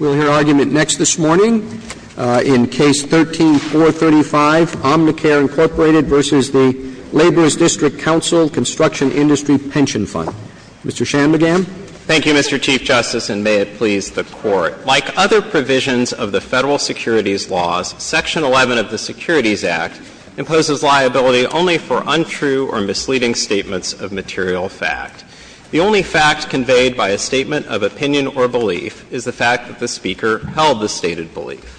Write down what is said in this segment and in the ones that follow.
We'll hear argument next this morning in Case 13-435, Omnicare, Inc. v. Laborers Dist. Council Constr. Industry Pension Fund. Mr. Shanmugam. Thank you, Mr. Chief Justice, and may it please the Court. Like other provisions of the Federal Securities Laws, Section 11 of the Securities Act imposes liability only for untrue or misleading statements of material fact. The only fact conveyed by a statement of opinion or belief is the fact that the speaker held the stated belief.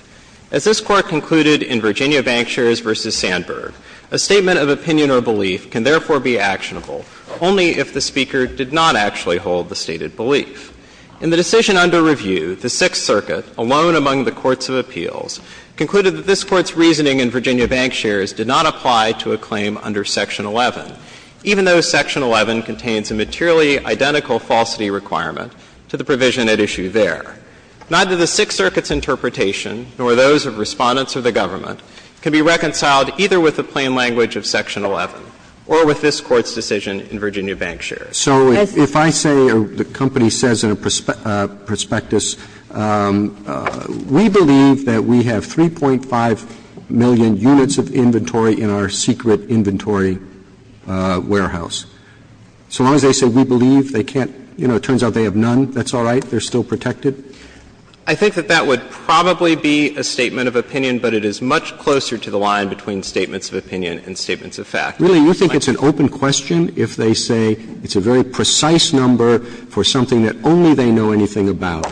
As this Court concluded in Virginia Bank Shares v. Sandberg, a statement of opinion or belief can therefore be actionable only if the speaker did not actually hold the stated belief. In the decision under review, the Sixth Circuit, alone among the courts of appeals, concluded that this Court's reasoning in Virginia Bank Shares did not apply to a claim under Section 11, even though Section 11 contains a materially identical falsity requirement to the provision at issue there. Neither the Sixth Circuit's interpretation, nor those of Respondents or the government, can be reconciled either with the plain language of Section 11 or with this Court's decision in Virginia Bank Shares. So if I say, or the company says in a prospectus, we believe that we have 3.5 million units of inventory in our secret inventory warehouse, so long as they say we believe, they can't, you know, it turns out they have none, that's all right, they're still protected? I think that that would probably be a statement of opinion, but it is much closer to the line between statements of opinion and statements of fact. Really, you think it's an open question if they say it's a very precise number for something that only they know anything about,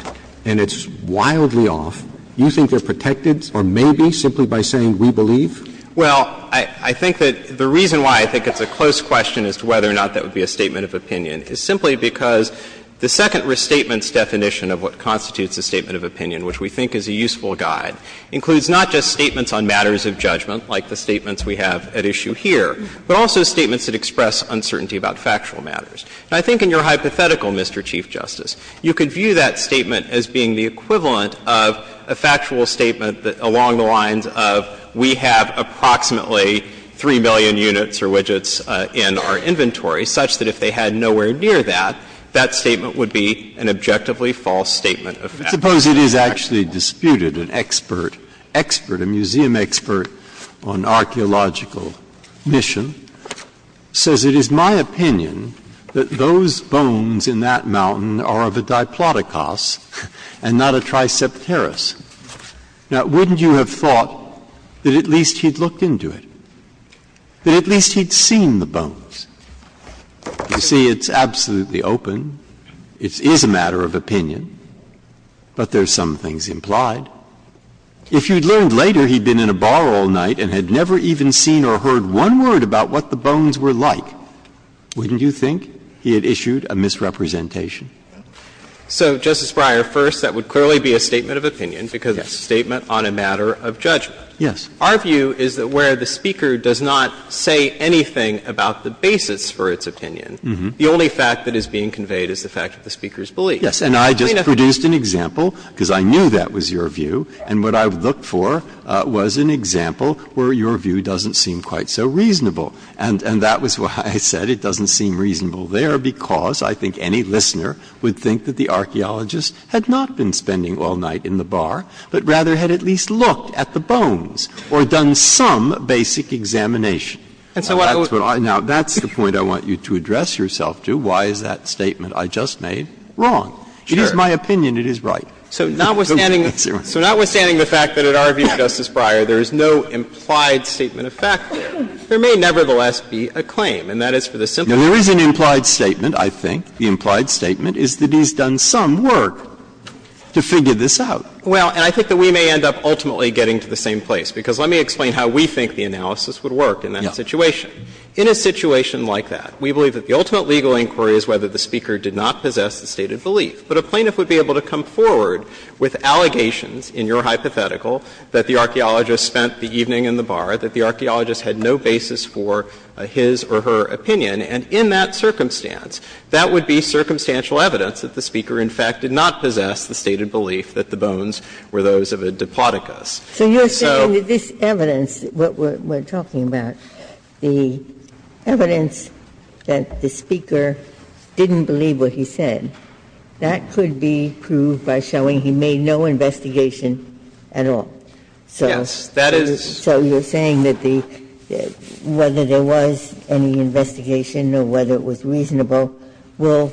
and it's wildly off? You think they're protected, or maybe, simply by saying we believe? Well, I think that the reason why I think it's a close question as to whether or not that would be a statement of opinion is simply because the second restatement's definition of what constitutes a statement of opinion, which we think is a useful guide, includes not just statements on matters of judgment, like the statements we have at issue here, but also statements that express uncertainty about factual matters. And I think in your hypothetical, Mr. Chief Justice, you could view that statement as being the equivalent of a factual statement that, along the lines of we have approximately 3 million units or widgets in our inventory, such that if they had nowhere near that, that statement would be an objectively false statement of fact. But suppose it is actually disputed, an expert, expert, a museum expert on archeological mission, says it is my opinion that those bones in that mountain are of a Diplodocus and not a Tricepterus. Now, wouldn't you have thought that at least he'd looked into it, that at least he'd seen the bones? You see, it's absolutely open. It is a matter of opinion, but there's some things implied. If you'd learned later he'd been in a bar all night and had never even seen or heard one word about what the bones were like, wouldn't you think he had issued a misrepresentation? So, Justice Breyer, first, that would clearly be a statement of opinion because it's a statement on a matter of judgment. Yes. Our view is that where the speaker does not say anything about the basis for its opinion, the only fact that is being conveyed is the fact that the speaker's belief. Yes. And I just produced an example, because I knew that was your view, and what I would look for was an example where your view doesn't seem quite so reasonable. And that was why I said it doesn't seem reasonable there, because I think any listener would think that the archaeologist had not been spending all night in the bar, but rather had at least looked at the bones or done some basic examination. Now, that's the point I want you to address yourself to. Why is that statement I just made wrong? It is my opinion it is right. So notwithstanding the fact that, in our view, Justice Breyer, there is no implied statement of fact, there may nevertheless be a claim, and that is for the simple reason that there is a claim. And the reason that there is no implied statement is that he's done some work to figure this out. Well, and I think that we may end up ultimately getting to the same place, because let me explain how we think the analysis would work in that situation. In a situation like that, we believe that the ultimate legal inquiry is whether the speaker did not possess the stated belief. But a plaintiff would be able to come forward with allegations in your hypothetical that the archaeologist spent the evening in the bar, that the archaeologist had no basis for his or her opinion. And in that circumstance, that would be circumstantial evidence that the speaker, in fact, did not possess the stated belief that the bones were those of a Diplodocus. So you're saying that this evidence, what we're talking about, the evidence that the speaker didn't believe what he said, that could be proved by showing he made no investigation at all. And I'm not sure that whether there was any investigation or whether it was reasonable will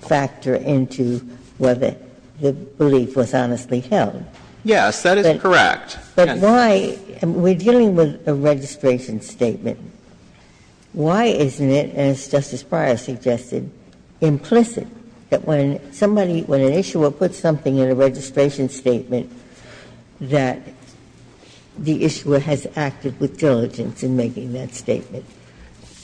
factor into whether the belief was honestly held. Yes, that is correct. But why we're dealing with a registration statement, why isn't it, as Justice Breyer suggested, implicit that when somebody, when an issuer puts something in a registration statement, that the issuer has acted with diligence in making that statement?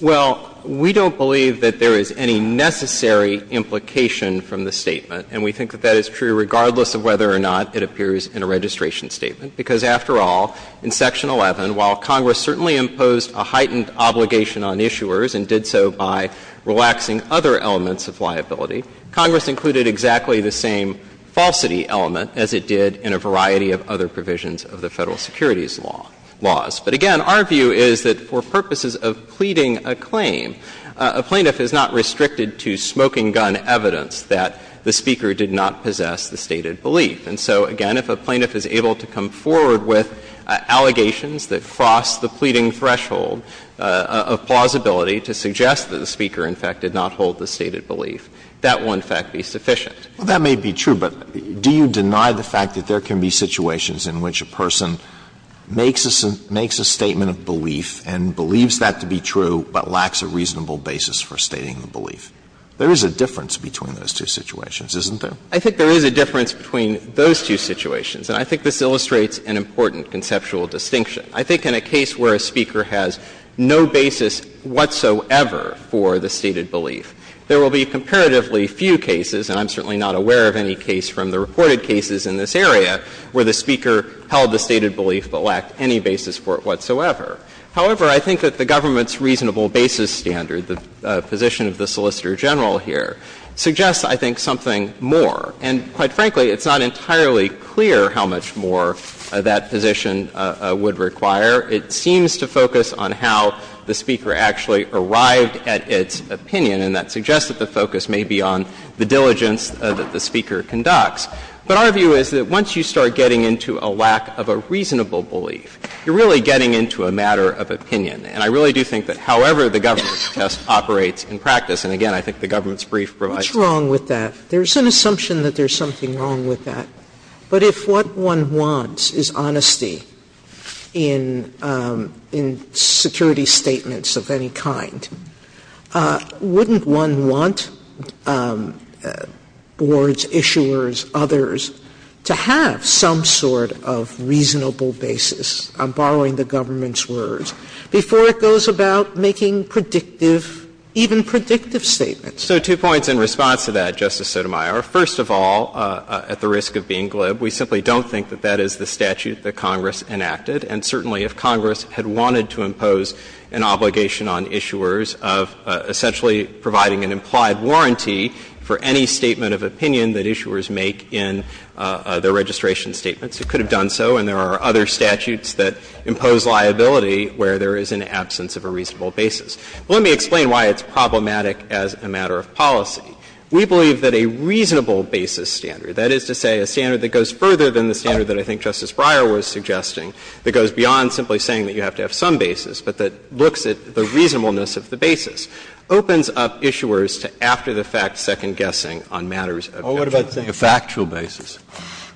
Well, we don't believe that there is any necessary implication from the statement. And we think that that is true regardless of whether or not it appears in a registration statement, because after all, in Section 11, while Congress certainly imposed a heightened obligation on issuers and did so by relaxing other elements of liability, Congress included exactly the same falsity element as it did in a variety of other provisions of the Federal Securities Laws. But again, our view is that for purposes of pleading a claim, a plaintiff is not restricted to smoking gun evidence that the speaker did not possess the stated belief. And so, again, if a plaintiff is able to come forward with allegations that cross the pleading threshold of plausibility to suggest that the speaker, in fact, did not withhold the stated belief, that will, in fact, be sufficient. Well, that may be true, but do you deny the fact that there can be situations in which a person makes a statement of belief and believes that to be true, but lacks a reasonable basis for stating the belief? There is a difference between those two situations, isn't there? I think there is a difference between those two situations. And I think this illustrates an important conceptual distinction. I think in a case where a speaker has no basis whatsoever for the stated belief, there will be comparatively few cases, and I'm certainly not aware of any case from the reported cases in this area, where the speaker held the stated belief but lacked any basis for it whatsoever. However, I think that the government's reasonable basis standard, the position of the Solicitor General here, suggests, I think, something more. And quite frankly, it's not entirely clear how much more that position would require. It seems to focus on how the speaker actually arrived at its opinion, and that suggests that the focus may be on the diligence that the speaker conducts. But our view is that once you start getting into a lack of a reasonable belief, you're really getting into a matter of opinion. And I really do think that however the government's test operates in practice, and, again, I think the government's brief provides that. Sotomayor What's wrong with that? There's an assumption that there's something wrong with that. But if what one wants is honesty in security statements of any kind, wouldn't one want boards, issuers, others, to have some sort of reasonable basis? I'm borrowing the government's words. Before it goes about making predictive, even predictive statements. So two points in response to that, Justice Sotomayor. First of all, at the risk of being glib, we simply don't think that that is the statute that Congress enacted. And certainly, if Congress had wanted to impose an obligation on issuers of essentially providing an implied warranty for any statement of opinion that issuers make in their registration statements, it could have done so. And there are other statutes that impose liability where there is an absence of a reasonable basis. Let me explain why it's problematic as a matter of policy. We believe that a reasonable basis standard, that is to say, a standard that goes further than the standard that I think Justice Breyer was suggesting, that goes beyond simply saying that you have to have some basis, but that looks at the reasonableness of the basis, opens up issuers to after-the-fact second-guessing on matters of actual basis. Scalia A factual basis. Shanmugam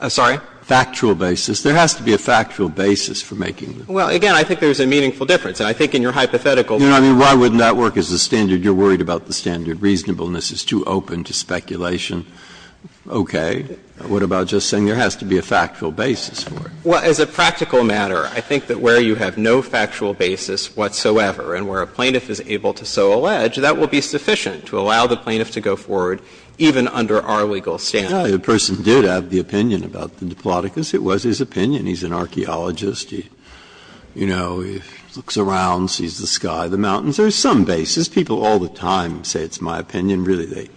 I'm sorry? Scalia Factual basis. There has to be a factual basis for making them. Shanmugam Well, again, I think there's a meaningful difference. And I think in your hypothetical. Breyer You know, I mean, why wouldn't that work as a standard? You're worried about the standard. Reasonableness is too open to speculation. Okay. What about just saying there has to be a factual basis for it? Shanmugam Well, as a practical matter, I think that where you have no factual basis whatsoever and where a plaintiff is able to so allege, that will be sufficient to allow the plaintiff to go forward, even under our legal standards. Breyer The person did have the opinion about the Diplodocus. It was his opinion. He's an archaeologist. He, you know, looks around, sees the sky, the mountains. There's some basis. People all the time say it's my opinion. Really, they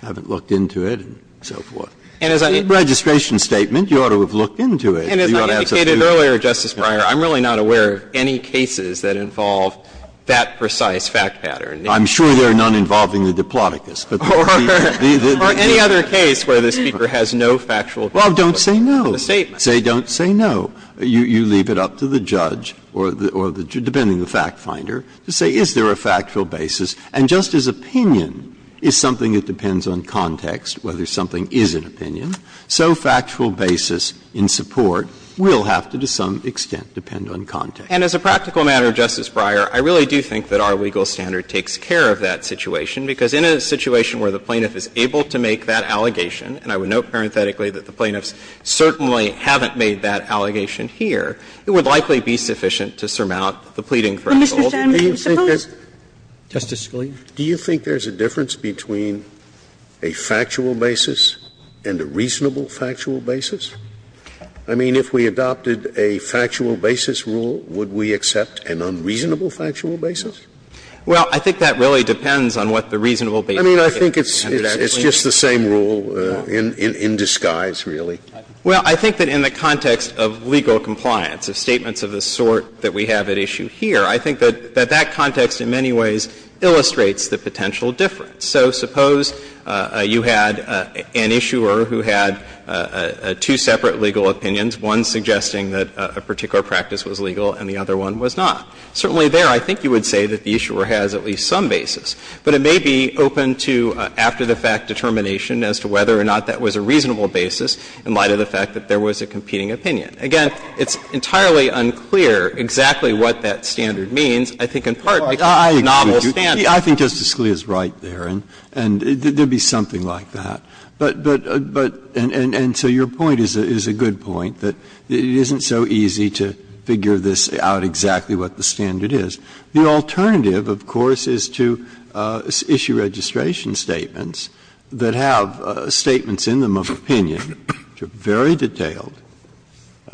haven't looked into it and so forth. It's a registration statement. You ought to have looked into it. Shanmugam And as I indicated earlier, Justice Breyer, I'm really not aware of any cases that involve that precise fact pattern. Breyer I'm sure there are none involving the Diplodocus. Shanmugam Or any other case where the speaker has no factual basis. Breyer Well, don't say no. Shanmugam A statement. Breyer Don't say no. You leave it up to the judge or the judge, depending on the fact finder, to say is there a factual basis. And just as opinion is something that depends on context, whether something is an opinion, so factual basis in support will have to, to some extent, depend on context. Shanmugam And as a practical matter, Justice Breyer, I really do think that our legal standard takes care of that situation, because in a situation where the plaintiff is able to make that allegation, and I would note parenthetically that the plaintiffs certainly haven't made that allegation here, it would likely be sufficient to surmount the pleading for assault. Sotomayor Do you think there's a difference between a factual basis and a reasonable factual basis? I mean, if we adopted a factual basis rule, would we accept an unreasonable factual basis? Shanmugam Well, I think that really depends on what the reasonable basis is. Sotomayor I mean, I think it's just the same rule in disguise, really. Shanmugam Well, I think that in the context of legal compliance, of statements of the sort that we have at issue here, I think that that context in many ways illustrates the potential difference. So suppose you had an issuer who had two separate legal opinions, one suggesting that a particular practice was legal and the other one was not. Certainly there, I think you would say that the issuer has at least some basis. But it may be open to after-the-fact determination as to whether or not that was a reasonable basis in light of the fact that there was a competing opinion. Again, it's entirely unclear exactly what that standard means. I think in part because it's a novel standard. Breyer I think Justice Scalia is right there. And there would be something like that. But so your point is a good point, that it isn't so easy to figure this out exactly what the standard is. The alternative, of course, is to issue registration statements that have statements in them of opinion which are very detailed,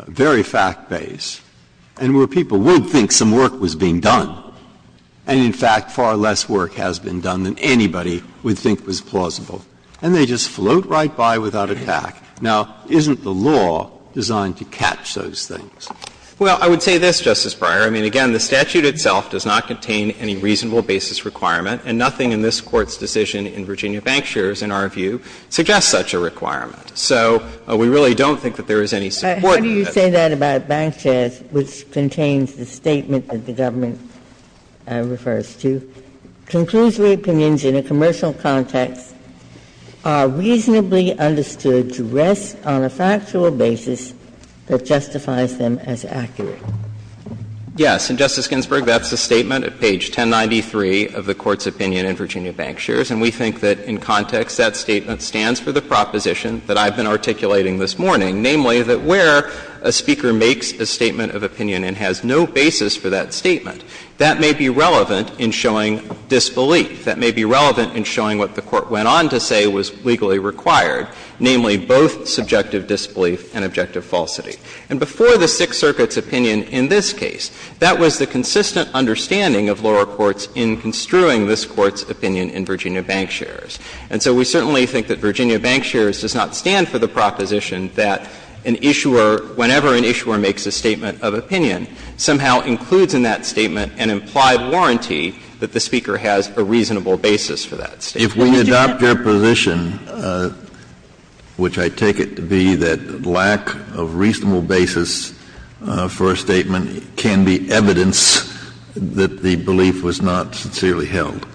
very fact-based, and where people would think some work was being done. And in fact, far less work has been done than anybody would think was plausible. And they just float right by without a tack. Now, isn't the law designed to catch those things? Well, I would say this, Justice Breyer. I mean, again, the statute itself does not contain any reasonable basis requirement, and nothing in this Court's decision in Virginia Bank Shares, in our view, suggests such a requirement. So we really don't think that there is any support. Ginsburg How do you say that about Bank Shares, which contains the statement that the government refers to? Conclusive opinions in a commercial context are reasonably understood to rest on a factual basis that justifies them as accurate. Yes. And, Justice Ginsburg, that's a statement at page 1093 of the Court's opinion in Virginia Bank Shares. And we think that in context, that statement stands for the proposition that I've been articulating this morning, namely that where a speaker makes a statement of opinion and has no basis for that statement, that may be relevant in showing disbelief. That may be relevant in showing what the Court went on to say was legally required, namely both subjective disbelief and objective falsity. And before the Sixth Circuit's opinion in this case, that was the consistent understanding of lower courts in construing this Court's opinion in Virginia Bank Shares. And so we certainly think that Virginia Bank Shares does not stand for the proposition that an issuer, whenever an issuer makes a statement of opinion, somehow includes in that statement an implied warranty that the speaker has a reasonable basis for that statement. If we adopt your position, which I take it to be that lack of reasonable basis for a statement can be evidence that the belief was not sincerely held,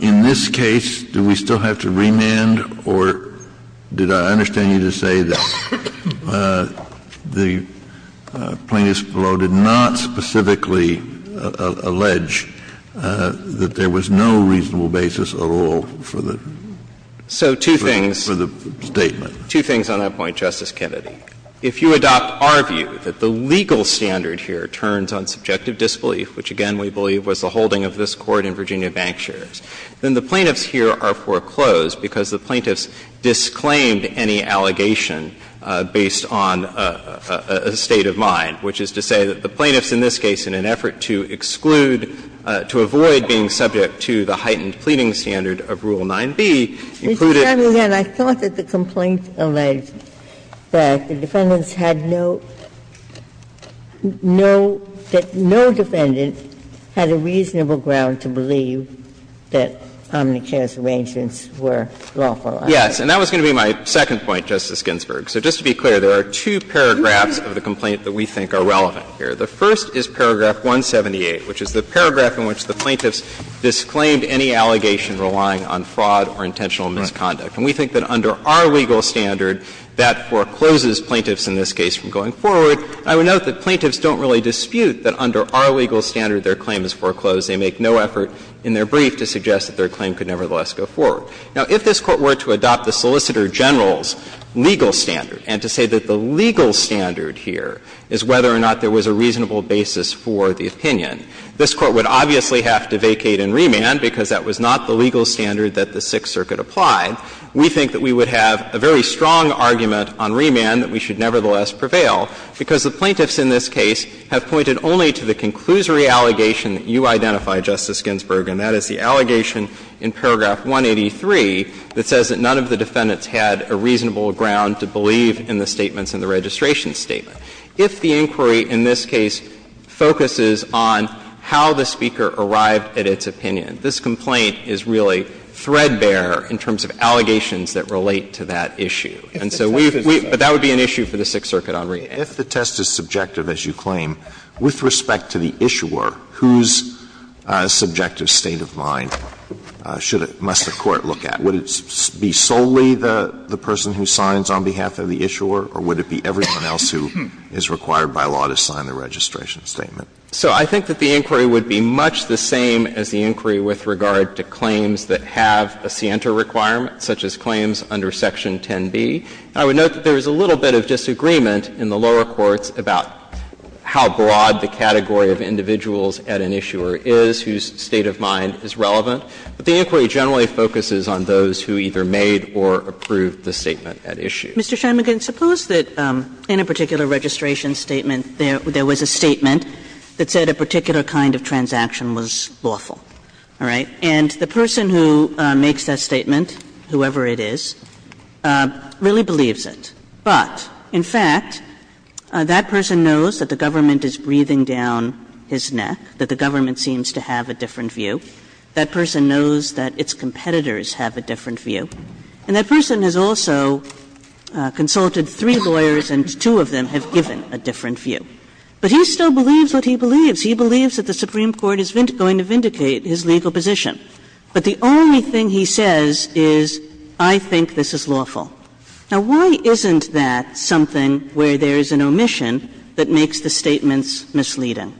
in this case, do we still have to remand, or did I understand you to say that the plaintiffs below did not specifically allege that there was no reasonable basis on the basis of the statement? So two things on that point, Justice Kennedy. If you adopt our view that the legal standard here turns on subjective disbelief, which, again, we believe was the holding of this Court in Virginia Bank Shares, then the plaintiffs here are foreclosed because the plaintiffs disclaimed any allegation based on a state of mind, which is to say that the plaintiffs in this case, in an effort to exclude, to avoid being subject to the heightened pleading standard of Rule 9b, included. Ginsburg. And I thought that the complaint alleged that the defendants had no, no, that no defendant had a reasonable ground to believe that omnicare's arrangements were lawful. Yes. And that was going to be my second point, Justice Ginsburg. So just to be clear, there are two paragraphs of the complaint that we think are relevant here. The first is paragraph 178, which is the paragraph in which the plaintiffs disclaimed any allegation relying on fraud or intentional misconduct. And we think that under our legal standard, that forecloses plaintiffs in this case from going forward. I would note that plaintiffs don't really dispute that under our legal standard their claim is foreclosed. They make no effort in their brief to suggest that their claim could nevertheless go forward. Now, if this Court were to adopt the Solicitor General's legal standard and to say that the legal standard here is whether or not there was a reasonable basis for the opinion, this Court would obviously have to vacate and remand because that was not the legal standard that the Sixth Circuit applied. We think that we would have a very strong argument on remand that we should nevertheless prevail, because the plaintiffs in this case have pointed only to the conclusory allegation that you identify, Justice Ginsburg, and that is the allegation in paragraph 183 that says that none of the defendants had a reasonable ground to believe in the statements in the registration statement. If the inquiry in this case focuses on how the Speaker arrived at its opinion, this complaint is really threadbare in terms of allegations that relate to that issue. And so we've we've – but that would be an issue for the Sixth Circuit on remand. Alito, if the test is subjective, as you claim, with respect to the issuer, whose subjective state of mind should it – must the Court look at? Would it be solely the person who signs on behalf of the issuer, or would it be everyone else who is required by law to sign the registration statement? So I think that the inquiry would be much the same as the inquiry with regard to claims that have a scienter requirement, such as claims under Section 10b. And I would note that there is a little bit of disagreement in the lower courts about how broad the category of individuals at an issuer is whose state of mind is relevant. But the inquiry generally focuses on those who either made or approved the statement at issue. Kagan, suppose that in a particular registration statement there was a statement that said a particular kind of transaction was lawful, all right, and the person who makes that statement, whoever it is, really believes it. But, in fact, that person knows that the government is breathing down his neck, that the government seems to have a different view, that person knows that its competitors have a different view, and that person has also consulted three lawyers and two of them have given a different view. But he still believes what he believes. He believes that the Supreme Court is going to vindicate his legal position. But the only thing he says is, I think this is lawful. Now, why isn't that something where there is an omission that makes the statements misleading?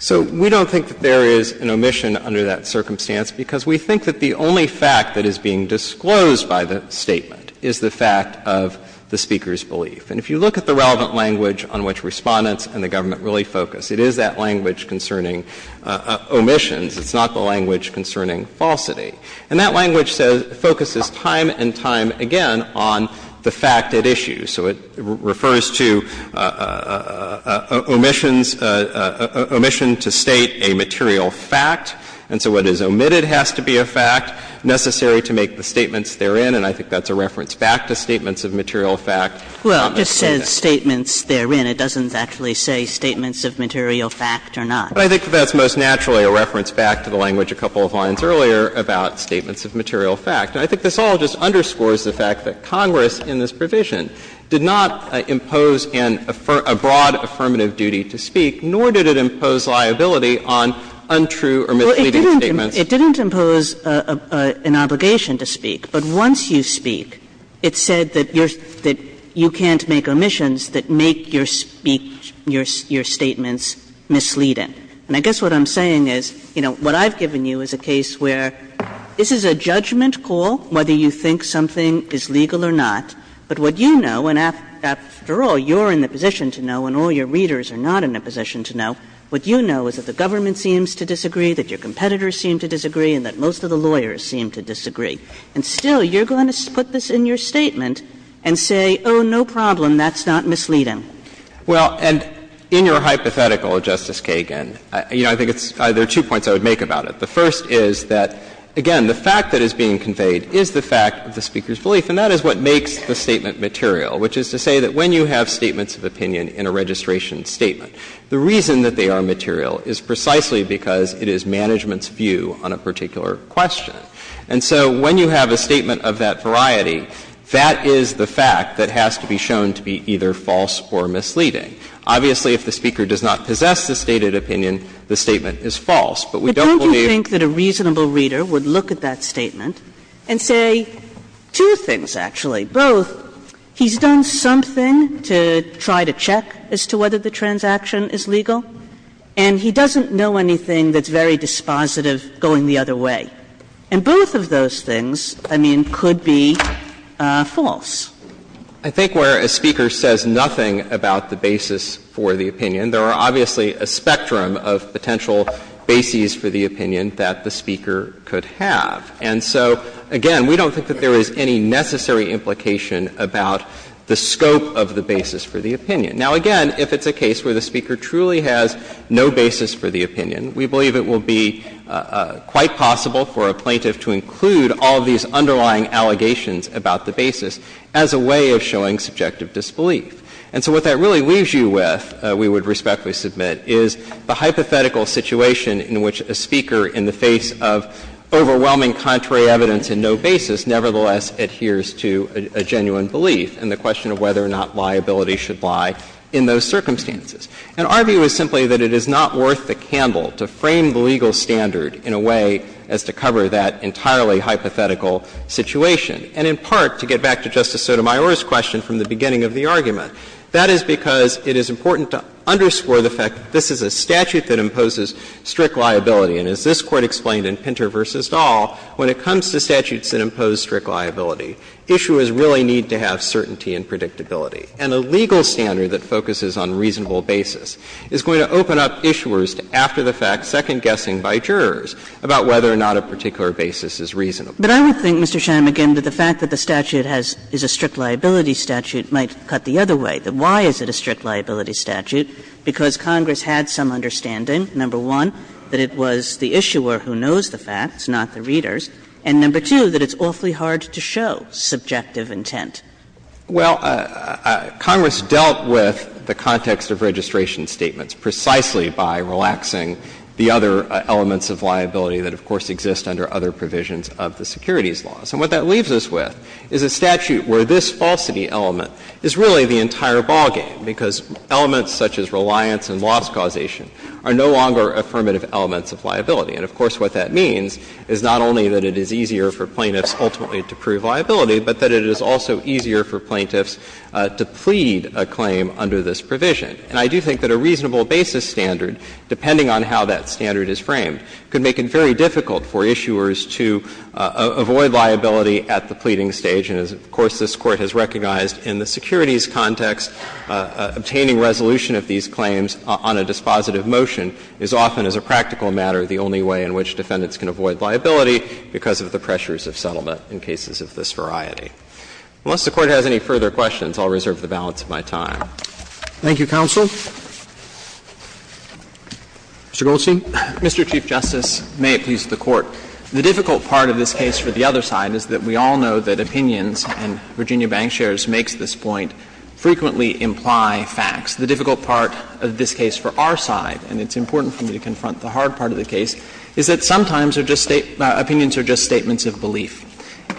So we don't think that there is an omission under that circumstance, because we think that the only fact that is being disclosed by the statement is the fact of the speaker's belief. And if you look at the relevant language on which Respondents and the government really focus, it is that language concerning omissions. It's not the language concerning falsity. And that language focuses time and time again on the fact at issue. So it refers to omissions, omission to state a material fact. And so what is omitted has to be a fact necessary to make the statements therein. And I think that's a reference back to statements of material fact. Kagan. Kagan. Well, it just says statements therein. It doesn't actually say statements of material fact or not. But I think that's most naturally a reference back to the language a couple of lines earlier about statements of material fact. And I think this all just underscores the fact that Congress, in this provision, did not impose a broad affirmative duty to speak, nor did it impose liability on untrue or misleading statements. Kagan. It didn't impose an obligation to speak, but once you speak, it said that you can't make omissions that make your statements misleading. And I guess what I'm saying is, you know, what I've given you is a case where this is a judgment call whether you think something is legal or not, but what you know and, after all, you're in the position to know and all your readers are not in a position to know, what you know is that the government seems to disagree, that your competitors seem to disagree, and that most of the lawyers seem to disagree. And still, you're going to put this in your statement and say, oh, no problem, that's not misleading. Well, and in your hypothetical, Justice Kagan, you know, I think it's – there is a fact that is being conveyed is the fact of the Speaker's belief, and that is what makes the statement material, which is to say that when you have statements of opinion in a registration statement, the reason that they are material is precisely because it is management's view on a particular question. And so when you have a statement of that variety, that is the fact that has to be shown to be either false or misleading. Obviously, if the Speaker does not possess the stated opinion, the statement is false. But we don't believe that a reasonable reader would look at that statement and say two things, actually, both, he's done something to try to check as to whether the transaction is legal, and he doesn't know anything that's very dispositive going the other way. And both of those things, I mean, could be false. I think where a Speaker says nothing about the basis for the opinion, there are obviously a spectrum of potential bases for the opinion that the Speaker could have. And so, again, we don't think that there is any necessary implication about the scope of the basis for the opinion. Now, again, if it's a case where the Speaker truly has no basis for the opinion, we believe it will be quite possible for a plaintiff to include all of these underlying allegations about the basis as a way of showing subjective disbelief. And so what that really leaves you with, we would respectfully submit, is the hypothetical situation in which a Speaker, in the face of overwhelming contrary evidence and no basis, nevertheless adheres to a genuine belief in the question of whether or not liability should lie in those circumstances. And our view is simply that it is not worth the candle to frame the legal standard in a way as to cover that entirely hypothetical situation, and in part, to get back to Justice Sotomayor's question from the beginning of the argument. That is because it is important to underscore the fact that this is a statute that imposes strict liability. And as this Court explained in Pinter v. Dahl, when it comes to statutes that impose strict liability, issuers really need to have certainty and predictability. And a legal standard that focuses on reasonable basis is going to open up issuers to, after the fact, second-guessing by jurors about whether or not a particular basis is reasonable. Kagan. But I would think, Mr. Shanmugam, that the fact that the statute has — is a strict liability statute might cut the other way, that why is it a strict liability statute? Because Congress had some understanding, number one, that it was the issuer who knows the facts, not the readers, and, number two, that it's awfully hard to show subjective intent. Shanmugam Well, Congress dealt with the context of registration statements precisely by relaxing the other elements of liability that, of course, exist under other provisions of the securities laws. And what that leaves us with is a statute where this falsity element is really the entire ballgame, because elements such as reliance and loss causation are no longer affirmative elements of liability. And, of course, what that means is not only that it is easier for plaintiffs ultimately to prove liability, but that it is also easier for plaintiffs to plead a claim under this provision. And I do think that a reasonable basis standard, depending on how that standard is framed, could make it very difficult for issuers to avoid liability at the pleading stage, and as, of course, this Court has recognized in the securities context, obtaining resolution of these claims on a dispositive motion is often, as a practical matter, the only way in which defendants can avoid liability because of the pressures of settlement in cases of this variety. Unless the Court has any further questions, I'll reserve the balance of my time. Roberts. Thank you, counsel. Mr. Goldstein. Mr. Chief Justice, may it please the Court. The difficult part of this case for the other side is that we all know that opinions and Virginia bank shares makes this point frequently imply facts. The difficult part of this case for our side, and it's important for me to confront the hard part of the case, is that sometimes opinions are just statements of belief.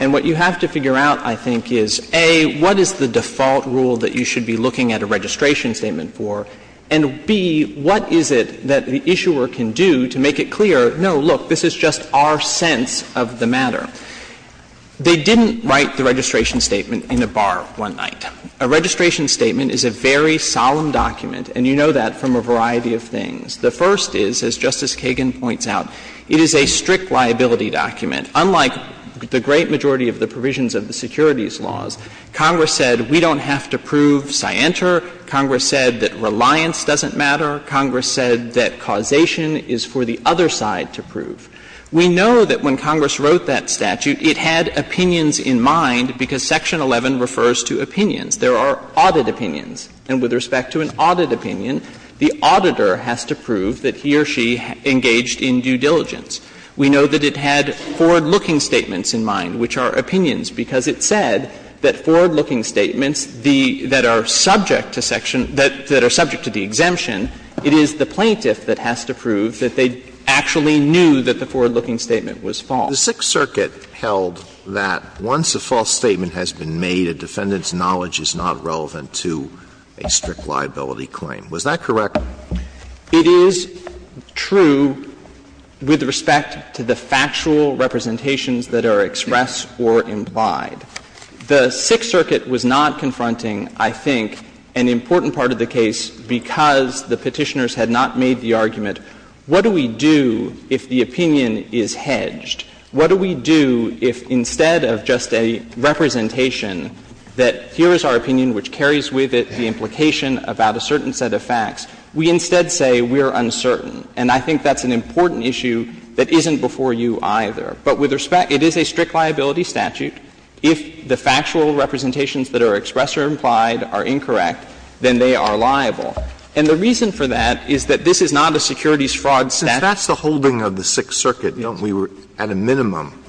And what you have to figure out, I think, is, A, what is the default rule that you should be looking at a registration statement for, and, B, what is it that the issuer can do to make it clear, no, look, this is just our sense of the matter? They didn't write the registration statement in a bar one night. A registration statement is a very solemn document, and you know that from a variety of things. The first is, as Justice Kagan points out, it is a strict liability document. Unlike the great majority of the provisions of the securities laws, Congress said we don't have to prove scienter. Congress said that reliance doesn't matter. Congress said that causation is for the other side to prove. We know that when Congress wrote that statute, it had opinions in mind because Section 11 refers to opinions. There are audit opinions. And with respect to an audit opinion, the auditor has to prove that he or she engaged in due diligence. We know that it had forward-looking statements in mind, which are opinions, because it said that forward-looking statements that are subject to section that are subject to the exemption, it is the plaintiff that has to prove that they actually knew that the forward-looking statement was false. The Sixth Circuit held that once a false statement has been made, a defendant's knowledge is not relevant to a strict liability claim. Was that correct? It is true with respect to the factual representations that are expressed or implied. The Sixth Circuit was not confronting, I think, an important part of the case because the Petitioners had not made the argument, what do we do if the opinion is hedged? What do we do if instead of just a representation that here is our opinion which carries with it the implication about a certain set of facts, we instead say we are uncertain? And I think that's an important issue that isn't before you either. But with respect, it is a strict liability statute. If the factual representations that are expressed or implied are incorrect, then they are liable. And the reason for that is that this is not a securities fraud statute. Alitoso, if that's the holding of the Sixth Circuit, don't we, at a minimum,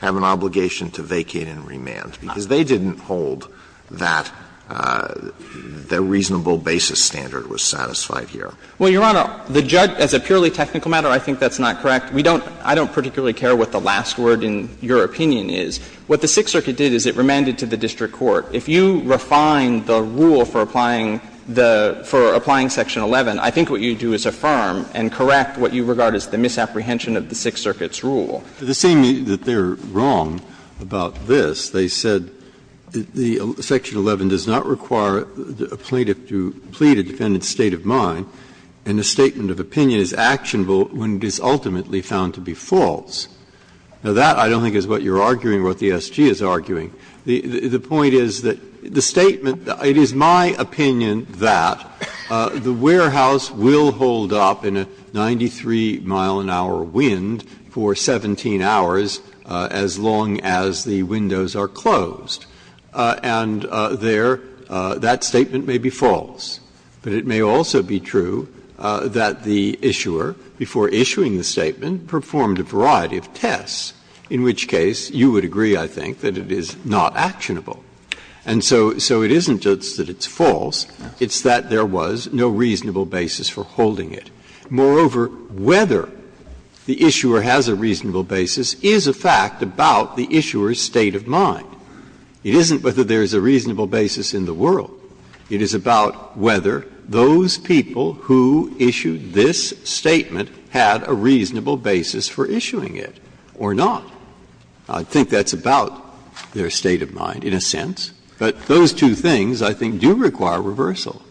have an obligation to vacate and remand? Because they didn't hold that the reasonable basis standard was satisfied here. Well, Your Honor, the judge, as a purely technical matter, I think that's not correct. We don't – I don't particularly care what the last word in your opinion is. What the Sixth Circuit did is it remanded to the district court, if you refine the rule for applying the – for applying Section 11, I think what you do is affirm and correct what you regard as the misapprehension of the Sixth Circuit's rule. The same that they are wrong about this. They said that the Section 11 does not require a plaintiff to plead a defendant's And a statement of opinion is actionable when it is ultimately found to be false. Now, that I don't think is what you are arguing or what the SG is arguing. The point is that the statement – it is my opinion that the warehouse will hold up in a 93-mile-an-hour wind for 17 hours as long as the windows are closed. And there, that statement may be false, but it may also be true that the issuer, before issuing the statement, performed a variety of tests, in which case you would agree, I think, that it is not actionable. And so it isn't just that it's false, it's that there was no reasonable basis for holding it. Moreover, whether the issuer has a reasonable basis is a fact about the issuer's state of mind. It isn't whether there is a reasonable basis in the world. It is about whether those people who issued this statement had a reasonable basis for issuing it or not. I think that's about their state of mind in a sense, but those two things, I think, do require reversal.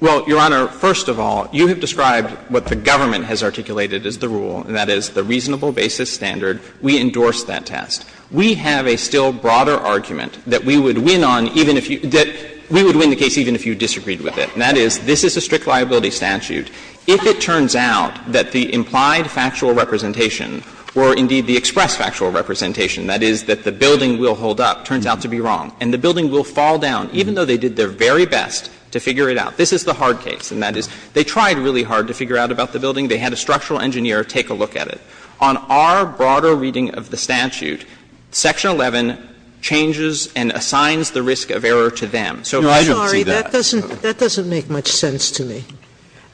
Well, Your Honor, first of all, you have described what the government has articulated as the rule, and that is the reasonable basis standard. We endorse that test. We have a still broader argument that we would win on even if you – that we would win the case even if you disagreed with it, and that is this is a strict liability statute. If it turns out that the implied factual representation or, indeed, the expressed factual representation, that is, that the building will hold up, turns out to be wrong, and the building will fall down, even though they did their very best to figure it out, this is the hard case. And that is, they tried really hard to figure out about the building. They had a structural engineer take a look at it. On our broader reading of the statute, Section 11 changes and assigns the risk of error to them. So I don't see that. Sotomayor, that doesn't make much sense to me.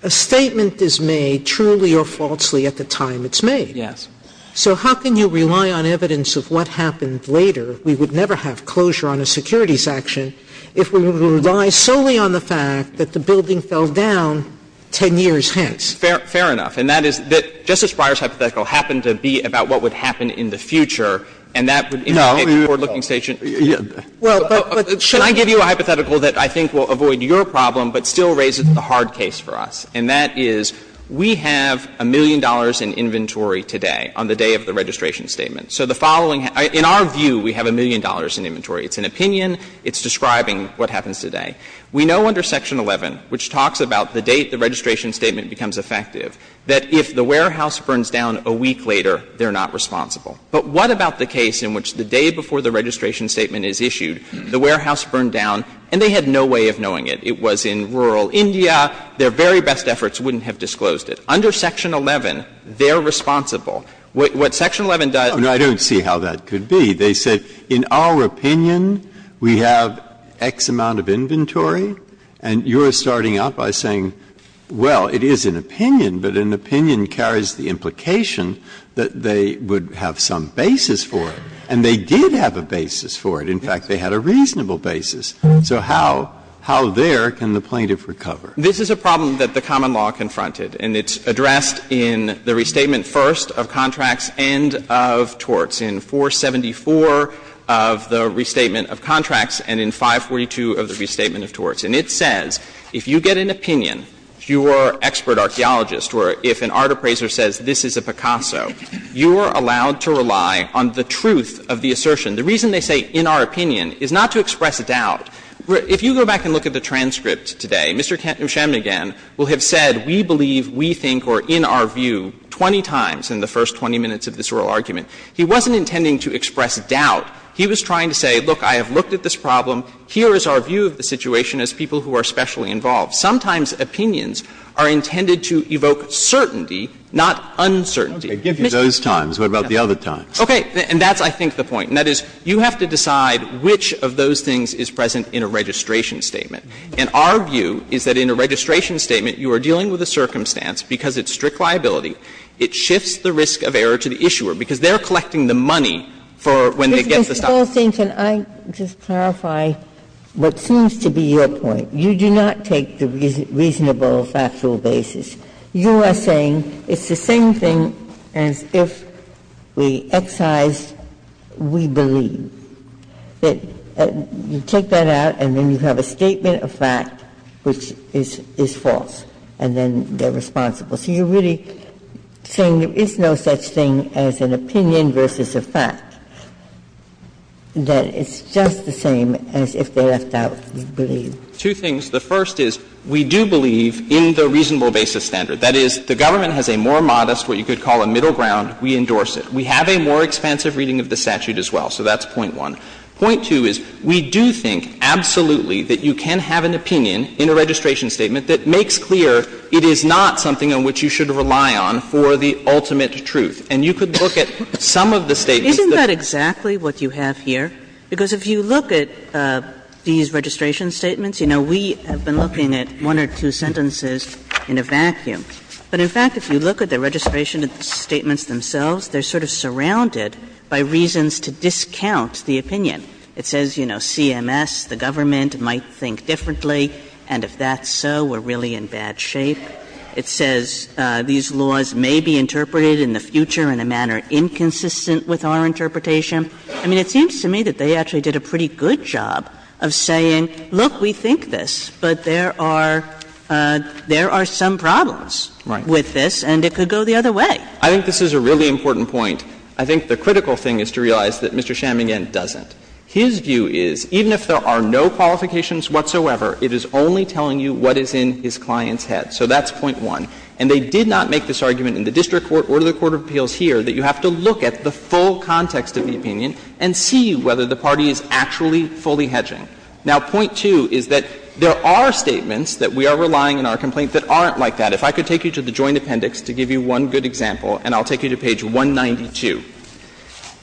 A statement is made truly or falsely at the time it's made. Yes. So how can you rely on evidence of what happened later? We would never have closure on a securities action if we would rely solely on the fact that the building fell down 10 years hence. Fair enough. And that is that Justice Breyer's hypothetical happened to be about what would happen in the future, and that would indicate a forward-looking statute. Well, but should I give you a hypothetical that I think will avoid your problem but still raises the hard case for us, and that is, we have a million dollars in inventory today on the day of the registration statement. So the following — in our view, we have a million dollars in inventory. It's an opinion. It's describing what happens today. We know under Section 11, which talks about the date the registration statement becomes effective, that if the warehouse burns down a week later, they're not responsible. But what about the case in which the day before the registration statement is issued, the warehouse burned down, and they had no way of knowing it? It was in rural India. Their very best efforts wouldn't have disclosed it. Under Section 11, they're responsible. What Section 11 does — Breyer, I don't see how that could be. They said, in our opinion, we have X amount of inventory, and you're starting out by saying, well, it is an opinion, but an opinion carries the implication that they would have some basis for it. And they did have a basis for it. In fact, they had a reasonable basis. So how — how there can the plaintiff recover? This is a problem that the common law confronted, and it's addressed in the Restatement First of Contracts and of Torts, in 474 of the Restatement of Contracts and in 542 of the Restatement of Torts. And it says, if you get an opinion, if you are an expert archaeologist or if an art appraiser says, this is a Picasso, you are allowed to rely on the truth of the assertion. The reason they say, in our opinion, is not to express doubt. If you go back and look at the transcript today, Mr. Nusheng, again, will have said we believe, we think, or in our view 20 times in the first 20 minutes of this oral argument. He wasn't intending to express doubt. He was trying to say, look, I have looked at this problem. Here is our view of the situation as people who are specially involved. Sometimes opinions are intended to evoke certainty, not uncertainty. Breyer, I give you those times. What about the other times? Okay. And that's, I think, the point. And that is, you have to decide which of those things is present in a registration statement. And our view is that in a registration statement, you are dealing with a circumstance because it's strict liability. It shifts the risk of error to the issuer because they are collecting the money for when they get the stuff. Ginsburg, you are saying, can I just clarify what seems to be your point? You do not take the reasonable factual basis. You are saying it's the same thing as if we excise, we believe. You take that out, and then you have a statement of fact which is false, and then they are responsible. So you are really saying there is no such thing as an opinion versus a fact. That it's just the same as if they left out, we believe. Two things. The first is, we do believe in the reasonable basis standard. That is, the government has a more modest, what you could call a middle ground. We endorse it. We have a more expansive reading of the statute as well. So that's point one. Point two is, we do think absolutely that you can have an opinion in a registration statement that makes clear it is not something on which you should rely on for the ultimate truth. And you could look at some of the statements that are in the statute. But that's not exactly what you have here, because if you look at these registration statements, you know, we have been looking at one or two sentences in a vacuum. But in fact, if you look at the registration statements themselves, they are sort of surrounded by reasons to discount the opinion. It says, you know, CMS, the government, might think differently, and if that's so, we are really in bad shape. It says these laws may be interpreted in the future in a manner inconsistent with our interpretation. I mean, it seems to me that they actually did a pretty good job of saying, look, we think this, but there are some problems with this, and it could go the other way. I think this is a really important point. I think the critical thing is to realize that Mr. Chamigan doesn't. His view is, even if there are no qualifications whatsoever, it is only telling you what is in his client's head. So that's point one. And they did not make this argument in the district court or the court of appeals here, that you have to look at the full context of the opinion and see whether the party is actually fully hedging. Now, point two is that there are statements that we are relying on in our complaint that aren't like that. If I could take you to the Joint Appendix to give you one good example, and I'll take you to page 192.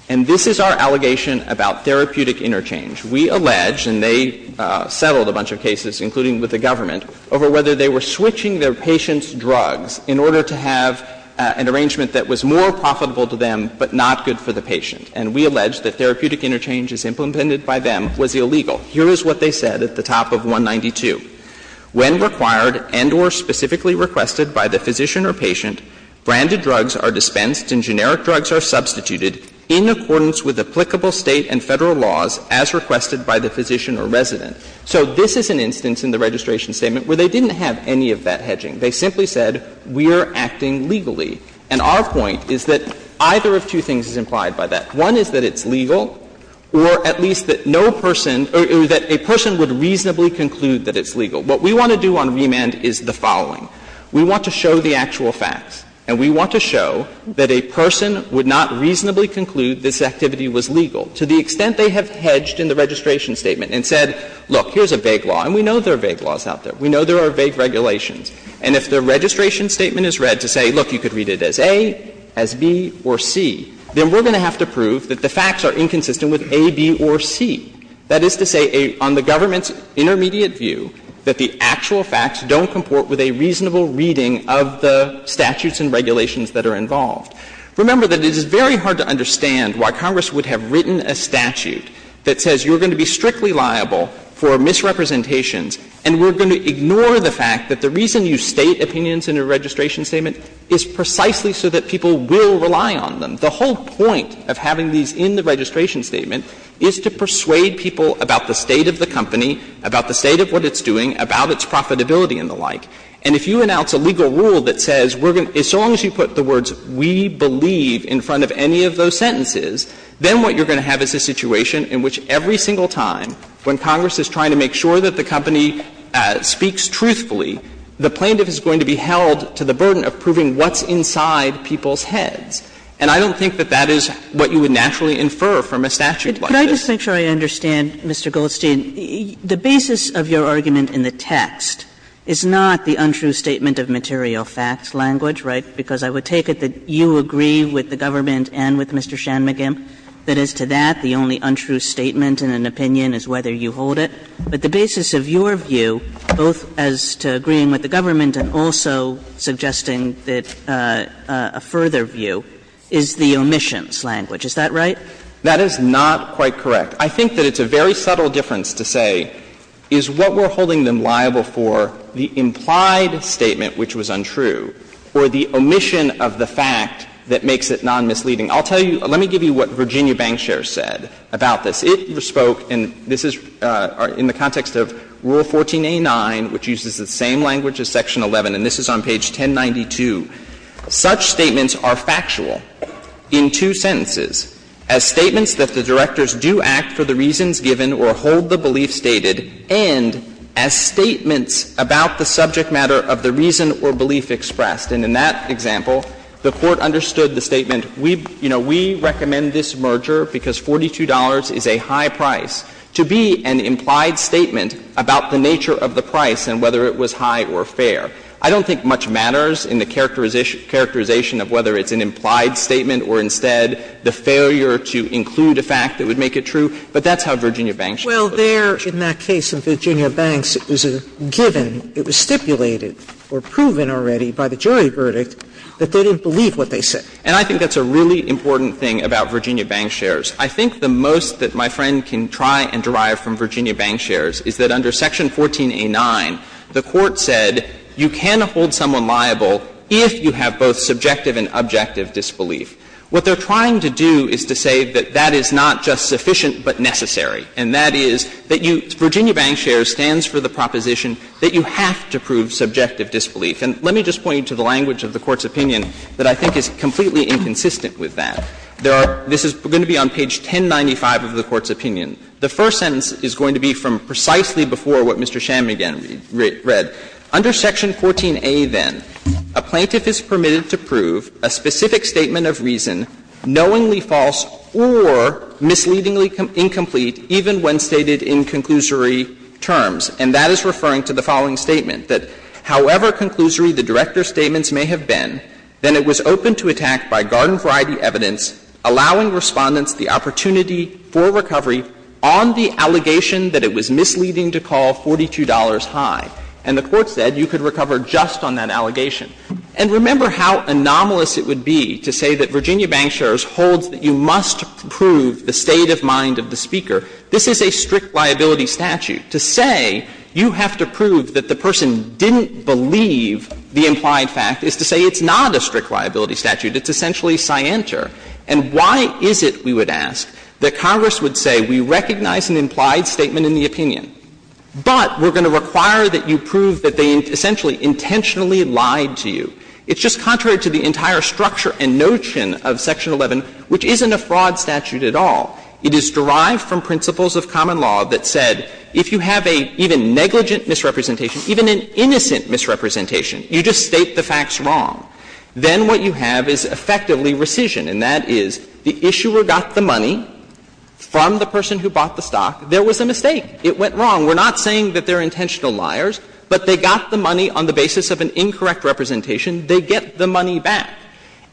And this is our allegation about therapeutic interchange. We allege, and they settled a bunch of cases, including with the government, over whether they were switching their patient's drugs in order to have an arrangement that was more profitable to them, but not good for the patient. And we allege that therapeutic interchange, as implemented by them, was illegal. Here is what they said at the top of 192. When required and or specifically requested by the physician or patient, branded drugs are dispensed and generic drugs are substituted in accordance with applicable State and Federal laws as requested by the physician or resident. So this is an instance in the registration statement where they didn't have any of that hedging. They simply said we are acting legally. And our point is that either of two things is implied by that. One is that it's legal, or at least that no person or that a person would reasonably conclude that it's legal. What we want to do on remand is the following. We want to show the actual facts, and we want to show that a person would not reasonably conclude this activity was legal, to the extent they have hedged in the registration statement and said, look, here's a vague law. And we know there are vague laws out there. We know there are vague regulations. And if the registration statement is read to say, look, you could read it as A, as B, or C, then we're going to have to prove that the facts are inconsistent with A, B, or C. That is to say, on the government's intermediate view, that the actual facts don't comport with a reasonable reading of the statutes and regulations that are involved. Remember that it is very hard to understand why Congress would have written a statute that says you're going to be strictly liable for misrepresentations, and we're going to ignore the fact that the reason you state opinions in a registration statement is precisely so that people will rely on them. The whole point of having these in the registration statement is to persuade people about the state of the company, about the state of what it's doing, about its profitability and the like. And if you announce a legal rule that says we're going to — as long as you put the words we believe in front of any of those sentences, then what you're going to have is a situation in which every single time when Congress is trying to make sure that the company speaks truthfully, the plaintiff is going to be held to the burden of proving what's inside people's heads. And I don't think that that is what you would naturally infer from a statute like this. Kagan Could I just make sure I understand, Mr. Goldstein, the basis of your argument in the text is not the untrue statement of material facts language, right, because I would take it that you agree with the government and with Mr. Shanmugam that as to that, the only untrue statement in an opinion is whether you hold it. But the basis of your view, both as to agreeing with the government and also suggesting that — a further view, is the omissions language, is that right? Goldstein That is not quite correct. I think that it's a very subtle difference to say, is what we're holding them liable for the implied statement, which was untrue, or the omission of the fact that makes it non-misleading. I'll tell you — let me give you what Virginia Bankshare said about this. It spoke, and this is in the context of Rule 14a9, which uses the same language as Section 11, and this is on page 1092. Such statements are factual in two sentences, as statements that the directors do act for the reasons given or hold the belief stated, and as statements about the subject matter of the reason or belief expressed. And in that example, the Court understood the statement, we, you know, we recommend this merger because $42 is a high price, to be an implied statement about the nature of the price and whether it was high or fair. I don't think much matters in the characterization of whether it's an implied statement or instead the failure to include a fact that would make it true, but that's how Virginia Bankshare put it. Sotomayor Well, there, in that case of Virginia Banks, it was a given, it was stipulated or proven already by the jury verdict that they didn't believe what they said. And I think that's a really important thing about Virginia Bankshare's. I think the most that my friend can try and derive from Virginia Bankshare's is that under Section 14a9, the Court said you can hold someone liable if you have both subjective and objective disbelief. What they're trying to do is to say that that is not just sufficient but necessary, and that is that you — Virginia Bankshare stands for the proposition that you have to prove subjective disbelief. And let me just point you to the language of the Court's opinion that I think is completely inconsistent with that. There are — this is going to be on page 1095 of the Court's opinion. The first sentence is going to be from precisely before what Mr. Shammigan read. It says that under Section 14a, then, a plaintiff is permitted to prove a specific statement of reason, knowingly false or misleadingly incomplete, even when stated in conclusory terms. And that is referring to the following statement, that however conclusory the director's statements may have been, then it was open to attack by garden-variety evidence allowing Respondents the opportunity for recovery on the allegation that it was misleading to call $42 high. And the Court said you could recover just on that allegation. And remember how anomalous it would be to say that Virginia Bankshare holds that you must prove the state of mind of the speaker. This is a strict liability statute. To say you have to prove that the person didn't believe the implied fact is to say it's not a strict liability statute. It's essentially scienter. And why is it, we would ask, that Congress would say we recognize an implied statement of reason in the opinion, but we're going to require that you prove that they essentially intentionally lied to you. It's just contrary to the entire structure and notion of Section 11, which isn't a fraud statute at all. It is derived from principles of common law that said if you have an even negligent misrepresentation, even an innocent misrepresentation, you just state the facts wrong, then what you have is effectively rescission. And that is the issuer got the money from the person who bought the stock. There was a mistake. It went wrong. We're not saying that they're intentional liars, but they got the money on the basis of an incorrect representation. They get the money back.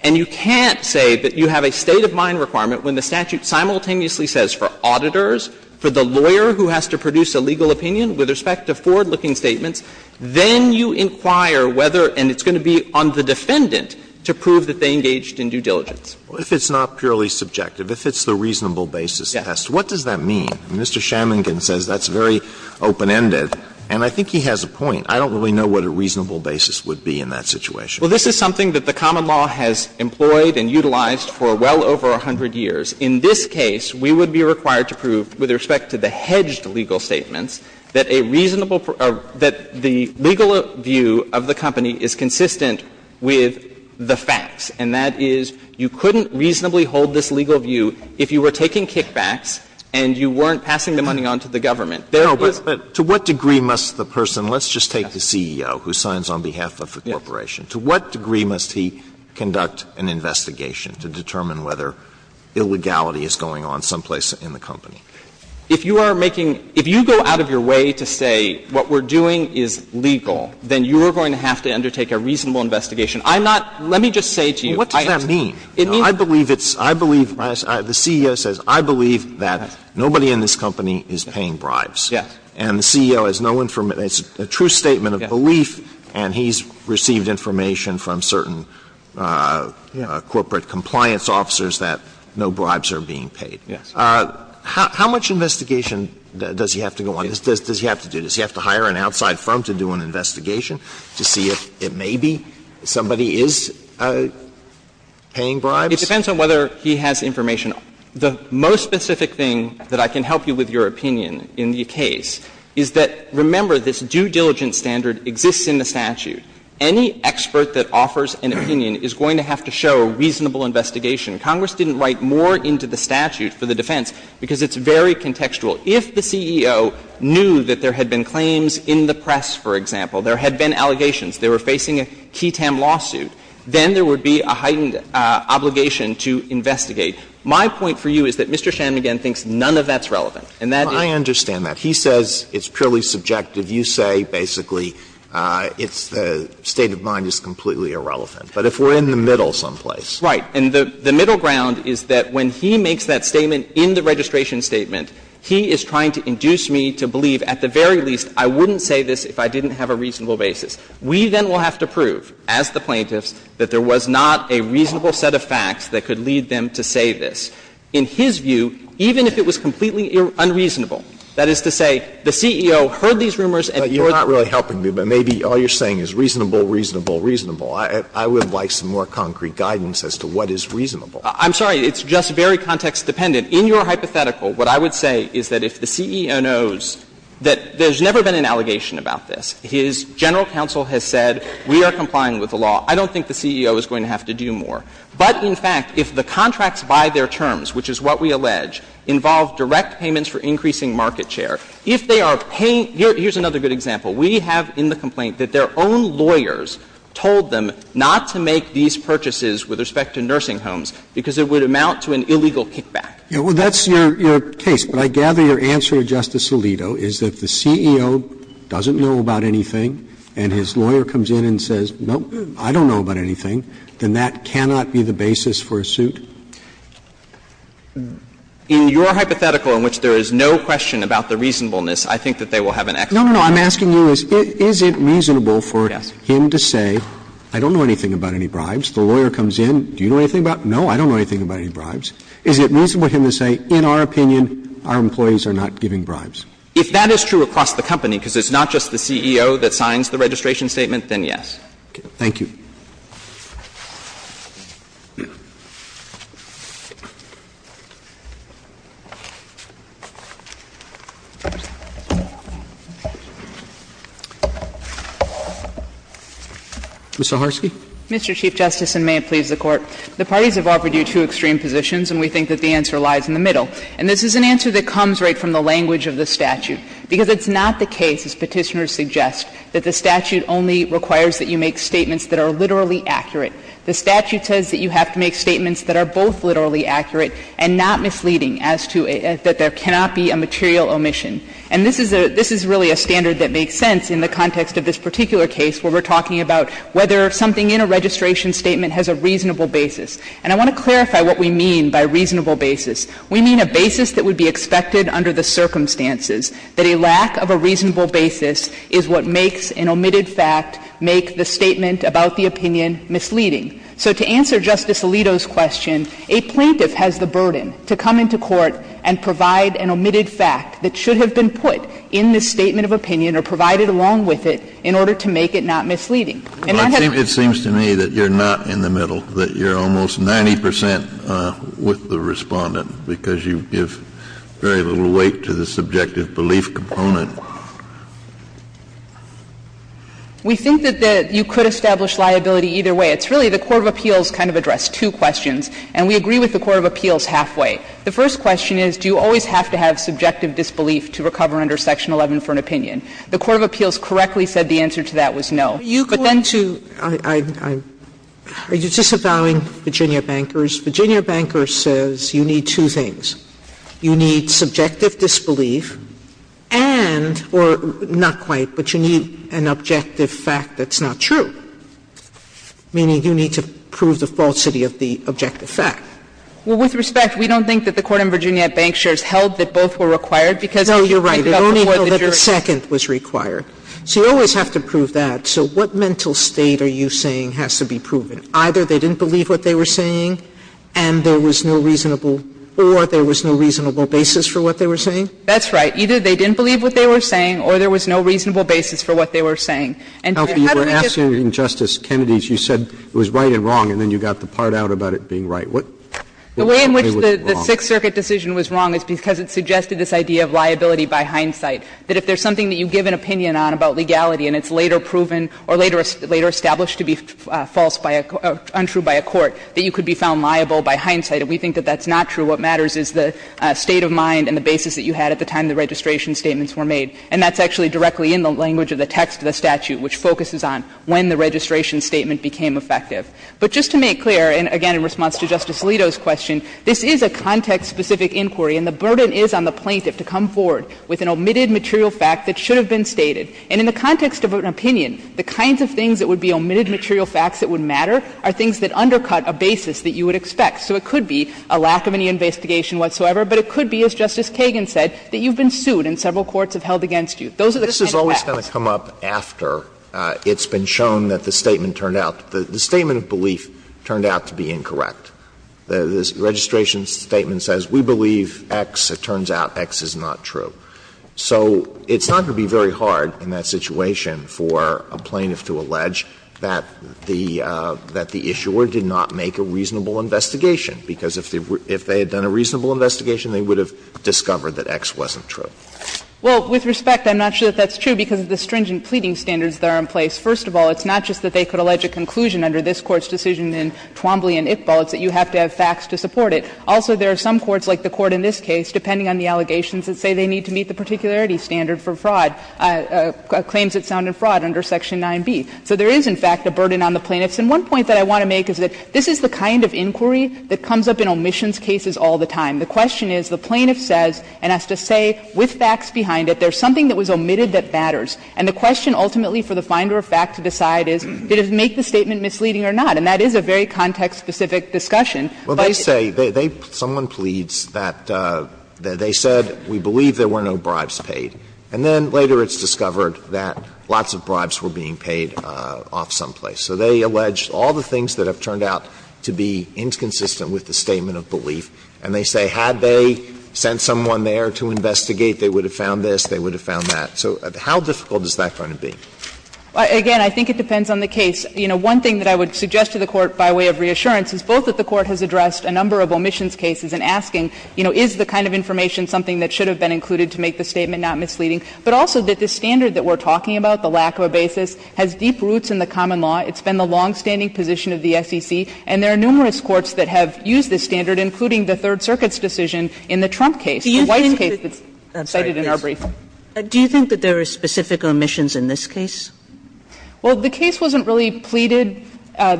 And you can't say that you have a state of mind requirement when the statute simultaneously says for auditors, for the lawyer who has to produce a legal opinion with respect to forward-looking statements, then you inquire whether, and it's going to be on the defendant, to prove that they engaged in due diligence. Alitoso, if it's not purely subjective, if it's the reasonable basis test, what does that mean? And Mr. Schamlingen says that's very open-ended, and I think he has a point. I don't really know what a reasonable basis would be in that situation. Well, this is something that the common law has employed and utilized for well over a hundred years. In this case, we would be required to prove, with respect to the hedged legal statements, that a reasonable or that the legal view of the company is consistent with the facts, and that is you couldn't reasonably hold this legal view if you were taking kickbacks and you weren't passing the money on to the government. There was no question. Alitoso, to what degree must the person, let's just take the CEO who signs on behalf of the corporation, to what degree must he conduct an investigation to determine whether illegality is going on someplace in the company? If you are making, if you go out of your way to say what we're doing is legal, then you are going to have to undertake a reasonable investigation. I'm not, let me just say to you. What does that mean? I believe it's, I believe, the CEO says, I believe that nobody in this company is paying bribes. Yes. And the CEO has no information, it's a true statement of belief, and he's received information from certain corporate compliance officers that no bribes are being paid. Yes. How much investigation does he have to go on? Does he have to do, does he have to hire an outside firm to do an investigation to see if it may be somebody is paying bribes? It depends on whether he has information. The most specific thing that I can help you with your opinion in the case is that, remember, this due diligence standard exists in the statute. Any expert that offers an opinion is going to have to show a reasonable investigation. Congress didn't write more into the statute for the defense because it's very contextual. If the CEO knew that there had been claims in the press, for example, there had been allegations, they were facing a key TAM lawsuit, then there would be a heightened obligation to investigate. My point for you is that Mr. Shanmugam thinks none of that's relevant. And that is the case. I understand that. He says it's purely subjective. You say, basically, it's the state of mind is completely irrelevant. But if we're in the middle someplace. Right. And the middle ground is that when he makes that statement in the registration statement, he is trying to induce me to believe, at the very least, I wouldn't say this if I didn't have a reasonable basis. We then will have to prove, as the plaintiffs, that there was not a reasonable set of facts that could lead them to say this. In his view, even if it was completely unreasonable, that is to say, the CEO heard these rumors and thought that. You're not really helping me, but maybe all you're saying is reasonable, reasonable, reasonable. I would like some more concrete guidance as to what is reasonable. I'm sorry. It's just very context-dependent. In your hypothetical, what I would say is that if the CEO knows that there's never been an allegation about this, his general counsel has said, we are complying with the law. I don't think the CEO is going to have to do more. But, in fact, if the contracts by their terms, which is what we allege, involve direct payments for increasing market share, if they are paying — here's another good example. We have in the complaint that their own lawyers told them not to make these purchases with respect to nursing homes because it would amount to an illegal kickback. Roberts, that's your case, but I gather your answer, Justice Alito, is that if the CEO doesn't know about anything and his lawyer comes in and says, no, I don't know about anything, then that cannot be the basis for a suit? In your hypothetical, in which there is no question about the reasonableness, I think that they will have an explanation. No, no, no. I'm asking you, is it reasonable for him to say, I don't know anything about any bribes? The lawyer comes in, do you know anything about it? No, I don't know anything about any bribes. Is it reasonable for him to say, in our opinion, our employees are not giving bribes? If that is true across the company, because it's not just the CEO that signs the registration statement, then yes. Thank you. Ms. Zaharsky. The parties have offered you two extreme positions, and we think that the answer lies in the middle. And this is an answer that comes right from the language of the statute, because it's not the case, as Petitioners suggest, that the statute only requires that you make statements that are literally accurate. The statute says that you have to make statements that are both literally accurate and not misleading as to that there cannot be a material omission. And this is a — this is really a standard that makes sense in the context of this particular case where we're talking about whether something in a registration statement has a reasonable basis. And I want to clarify what we mean by reasonable basis. We mean a basis that would be expected under the circumstances, that a lack of a reasonable basis is what makes an omitted fact make the statement about the opinion misleading. So to answer Justice Alito's question, a plaintiff has the burden to come into court and provide an omitted fact that should have been put in the statement of opinion or provided along with it in order to make it not misleading. Kennedy, it seems to me that you're not in the middle, that you're almost 90 percent with the Respondent, because you give very little weight to the subjective belief component. We think that you could establish liability either way. It's really the court of appeals kind of addressed two questions, and we agree with the court of appeals halfway. The first question is, do you always have to have subjective disbelief to recover under Section 11 for an opinion? The court of appeals correctly said the answer to that was no. But then to you, I'm, I'm, are you disavowing Virginia Bankers? Virginia Bankers says you need two things. You need subjective disbelief and or not quite, but you need an objective fact that's not true, meaning you need to prove the falsity of the objective fact. Well, with respect, we don't think that the court in Virginia Bankshares held that both were required because if you picked up before the jury. No, you're right. It only held that the second was required. So you always have to prove that. So what mental state are you saying has to be proven? Either they didn't believe what they were saying and there was no reasonable or there was no reasonable basis for what they were saying? That's right. Either they didn't believe what they were saying or there was no reasonable basis for what they were saying. And how do we get. Alito, you were asking Justice Kennedy, you said it was right and wrong, and then you got the part out about it being right. What, what way was it wrong? The way in which the Sixth Circuit decision was wrong is because it suggested this idea of liability by hindsight, that if there's something that you give an opinion on about legality and it's later proven or later established to be false by a, untrue by a court, that you could be found liable by hindsight. And we think that that's not true. What matters is the state of mind and the basis that you had at the time the registration statements were made. And that's actually directly in the language of the text of the statute, which focuses on when the registration statement became effective. But just to make clear, and again in response to Justice Alito's question, this is a context-specific inquiry and the burden is on the plaintiff to come forward with an omitted material fact that should have been stated. And in the context of an opinion, the kinds of things that would be omitted material facts that would matter are things that undercut a basis that you would expect. So it could be a lack of any investigation whatsoever, but it could be, as Justice Kagan said, that you've been sued and several courts have held against you. Those are the kinds of facts. Alito, this is always going to come up after it's been shown that the statement turned out to be the statement of belief turned out to be incorrect. The registration statement says we believe X. It turns out X is not true. So it's not going to be very hard in that situation for a plaintiff to allege that the issuer did not make a reasonable investigation, because if they had done a reasonable investigation, they would have discovered that X wasn't true. Well, with respect, I'm not sure that that's true because of the stringent pleading standards that are in place. First of all, it's not just that they could allege a conclusion under this Court's decision in Twombly and Iqbal. It's that you have to have facts to support it. Also, there are some courts, like the Court in this case, depending on the allegations that say they need to meet the particularity standard for fraud, claims that sounded fraud under Section 9b. So there is, in fact, a burden on the plaintiffs. And one point that I want to make is that this is the kind of inquiry that comes up in omissions cases all the time. The question is the plaintiff says and has to say with facts behind it, there's something that was omitted that matters. And the question ultimately for the finder of fact to decide is did it make the statement misleading or not. And that is a very context-specific discussion. Well, they say, someone pleads that they said we believe there were no bribes paid, and then later it's discovered that lots of bribes were being paid off someplace. So they allege all the things that have turned out to be inconsistent with the statement of belief, and they say had they sent someone there to investigate, they would have found this, they would have found that. So how difficult is that going to be? Again, I think it depends on the case. You know, one thing that I would suggest to the Court by way of reassurance is both that the Court has addressed a number of omissions cases in asking, you know, is the kind of information something that should have been included to make the statement not misleading, but also that the standard that we're talking about, the lack of a basis, has deep roots in the common law. It's been the longstanding position of the SEC, and there are numerous courts that have used this standard, including the Third Circuit's decision in the Trump case, the White's case that's cited in our brief. Sotomayor Do you think that there are specific omissions in this case? Well, the case wasn't really pleaded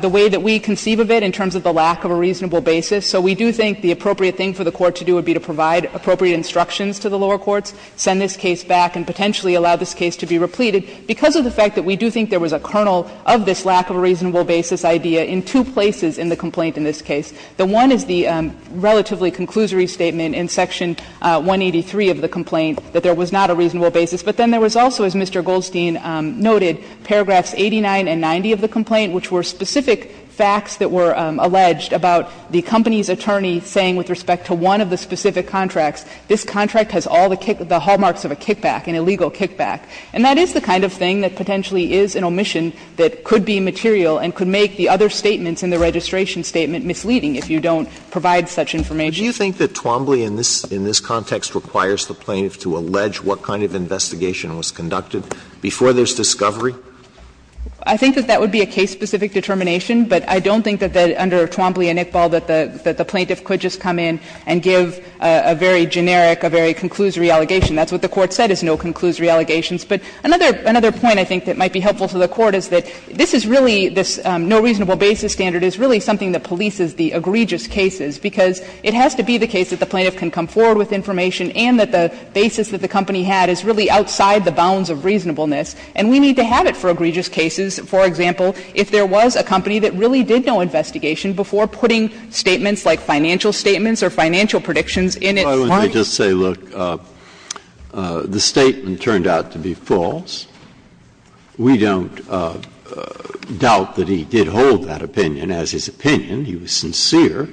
the way that we conceive of it in terms of the lack of a reasonable basis. So we do think the appropriate thing for the Court to do would be to provide appropriate instructions to the lower courts, send this case back, and potentially allow this case to be repleted, because of the fact that we do think there was a kernel of this lack of a reasonable basis idea in two places in the complaint in this case. The one is the relatively conclusory statement in Section 183 of the complaint that there was not a reasonable basis, but then there was also, as Mr. Goldstein noted, paragraphs 89 and 90 of the complaint, which were specific facts that were alleged about the company's attorney saying with respect to one of the specific contracts, this contract has all the hallmarks of a kickback, an illegal kickback. And that is the kind of thing that potentially is an omission that could be material and could make the other statements in the registration statement misleading if you don't provide such information. Do you think that Twombly in this context requires the plaintiff to allege what kind of investigation was conducted? Before there's discovery? I think that that would be a case-specific determination, but I don't think that under Twombly and Iqbal that the plaintiff could just come in and give a very generic, a very conclusory allegation. That's what the Court said is no conclusory allegations. But another point I think that might be helpful to the Court is that this is really this no reasonable basis standard is really something that polices the egregious cases, because it has to be the case that the plaintiff can come forward with information and that the basis that the company had is really outside the bounds of reasonableness. And we need to have it for egregious cases. For example, if there was a company that really did no investigation before putting statements like financial statements or financial predictions in its mind. Breyer, let me just say, look, the statement turned out to be false. We don't doubt that he did hold that opinion as his opinion. He was sincere,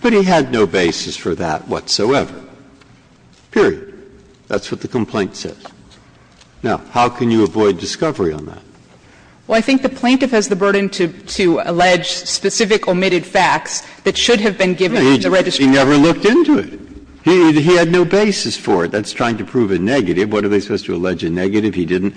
but he had no basis for that whatsoever. Period. That's what the complaint says. Now, how can you avoid discovery on that? Well, I think the plaintiff has the burden to allege specific omitted facts that should have been given in the registration. He never looked into it. He had no basis for it. That's trying to prove a negative. What are they supposed to allege a negative? He didn't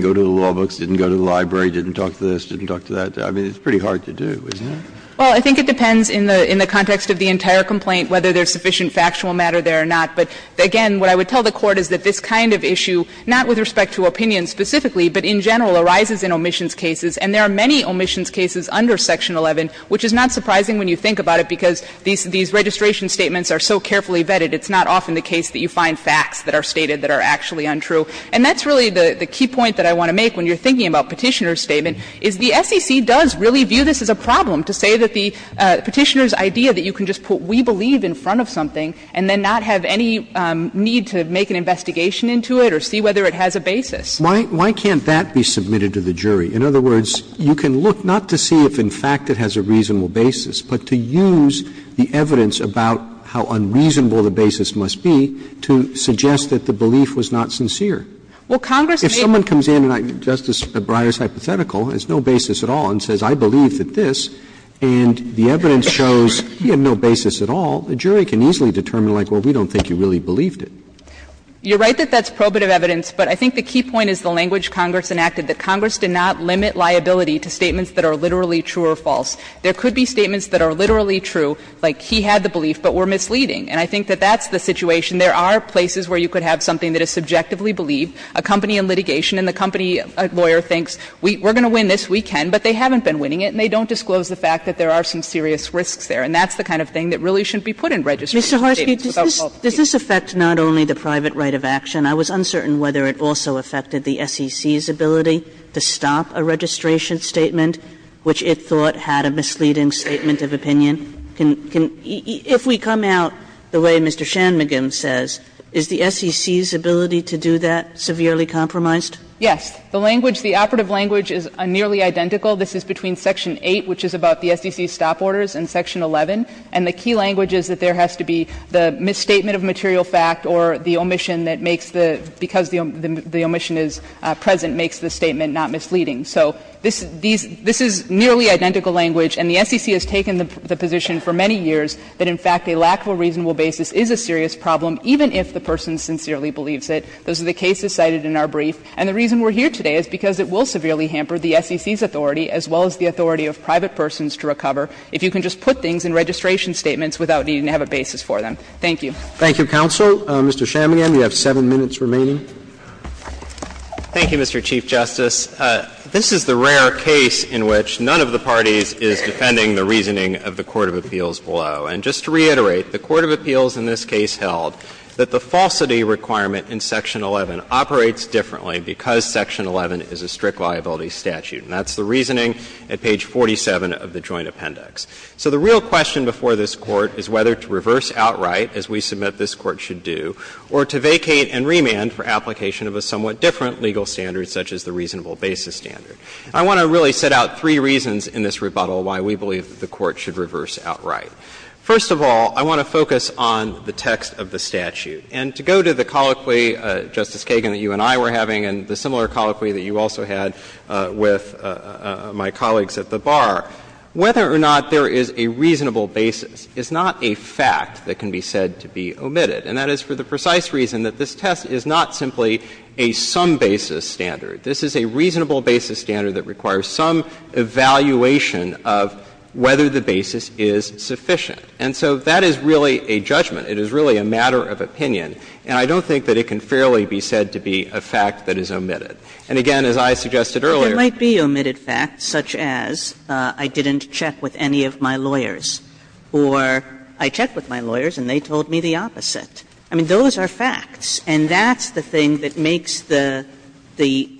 go to the law books, didn't go to the library, didn't talk to this, didn't talk to that. I mean, it's pretty hard to do, isn't it? Well, I think it depends in the context of the entire complaint whether there's sufficient factual matter there or not. But, again, what I would tell the Court is that this kind of issue, not with respect to opinion specifically, but in general, arises in omissions cases, and there are many omissions cases under Section 11, which is not surprising when you think about it, because these registration statements are so carefully vetted, it's not often the case that you find facts that are stated that are actually untrue. And that's really the key point that I want to make when you're thinking about Petitioner's statement, is the SEC does really view this as a problem, to say that the Petitioner's idea that you can just put we believe in front of something and then not have any need to make an investigation into it or see whether it has a basis. Why can't that be submitted to the jury? In other words, you can look not to see if, in fact, it has a reasonable basis, but to use the evidence about how unreasonable the basis must be to suggest that Well, Congress may be able to say that the Petitioner's idea was not sincere. If someone comes in, Justice Breyer's hypothetical, has no basis at all, and says I believe that this, and the evidence shows he had no basis at all, the jury can easily determine, like, well, we don't think you really believed it. You're right that that's probative evidence, but I think the key point is the language Congress enacted, that Congress did not limit liability to statements that are literally true or false. There could be statements that are literally true, like he had the belief, but were misleading. And I think that that's the situation. There are places where you could have something that is subjectively believed. A company in litigation and the company lawyer thinks we're going to win this, we can, but they haven't been winning it, and they don't disclose the fact that there are some serious risks there. And that's the kind of thing that really shouldn't be put in registration statements without fault. Kagan, does this affect not only the private right of action? I was uncertain whether it also affected the SEC's ability to stop a registration statement which it thought had a misleading statement of opinion. If we come out the way Mr. Shanmugam says, is the SEC's ability to do that severely compromised? Yes. The language, the operative language is nearly identical. This is between section 8, which is about the SEC's stop orders, and section 11. And the key language is that there has to be the misstatement of material fact or the omission that makes the – because the omission is present, makes the statement not misleading. So this is nearly identical language, and the SEC has taken the position for many years that in fact a lack of a reasonable basis is a serious problem, even if the person sincerely believes it. Those are the cases cited in our brief, and the reason we're here today is because it will severely hamper the SEC's authority as well as the authority of private persons to recover if you can just put things in registration statements without needing to have a basis for them. Thank you. Thank you, counsel. Mr. Shanmugam, you have 7 minutes remaining. Thank you, Mr. Chief Justice. This is the rare case in which none of the parties is defending the reasoning of the court of appeals below. And just to reiterate, the court of appeals in this case held that the falsity requirement in Section 11 operates differently because Section 11 is a strict liability statute. And that's the reasoning at page 47 of the Joint Appendix. So the real question before this Court is whether to reverse outright, as we submit this Court should do, or to vacate and remand for application of a somewhat different legal standard such as the reasonable basis standard. I want to really set out three reasons in this rebuttal why we believe that the Court should reverse outright. First of all, I want to focus on the text of the statute. And to go to the colloquy, Justice Kagan, that you and I were having, and the similar colloquy that you also had with my colleagues at the bar, whether or not there is a reasonable basis is not a fact that can be said to be omitted. And that is for the precise reason that this test is not simply a some basis standard. This is a reasonable basis standard that requires some evaluation of whether the basis is sufficient. And so that is really a judgment. It is really a matter of opinion. And I don't think that it can fairly be said to be a fact that is omitted. And again, as I suggested earlier ---- Kagan. But there might be omitted facts, such as, I didn't check with any of my lawyers, or I checked with my lawyers and they told me the opposite. I mean, those are facts, and that's the thing that makes the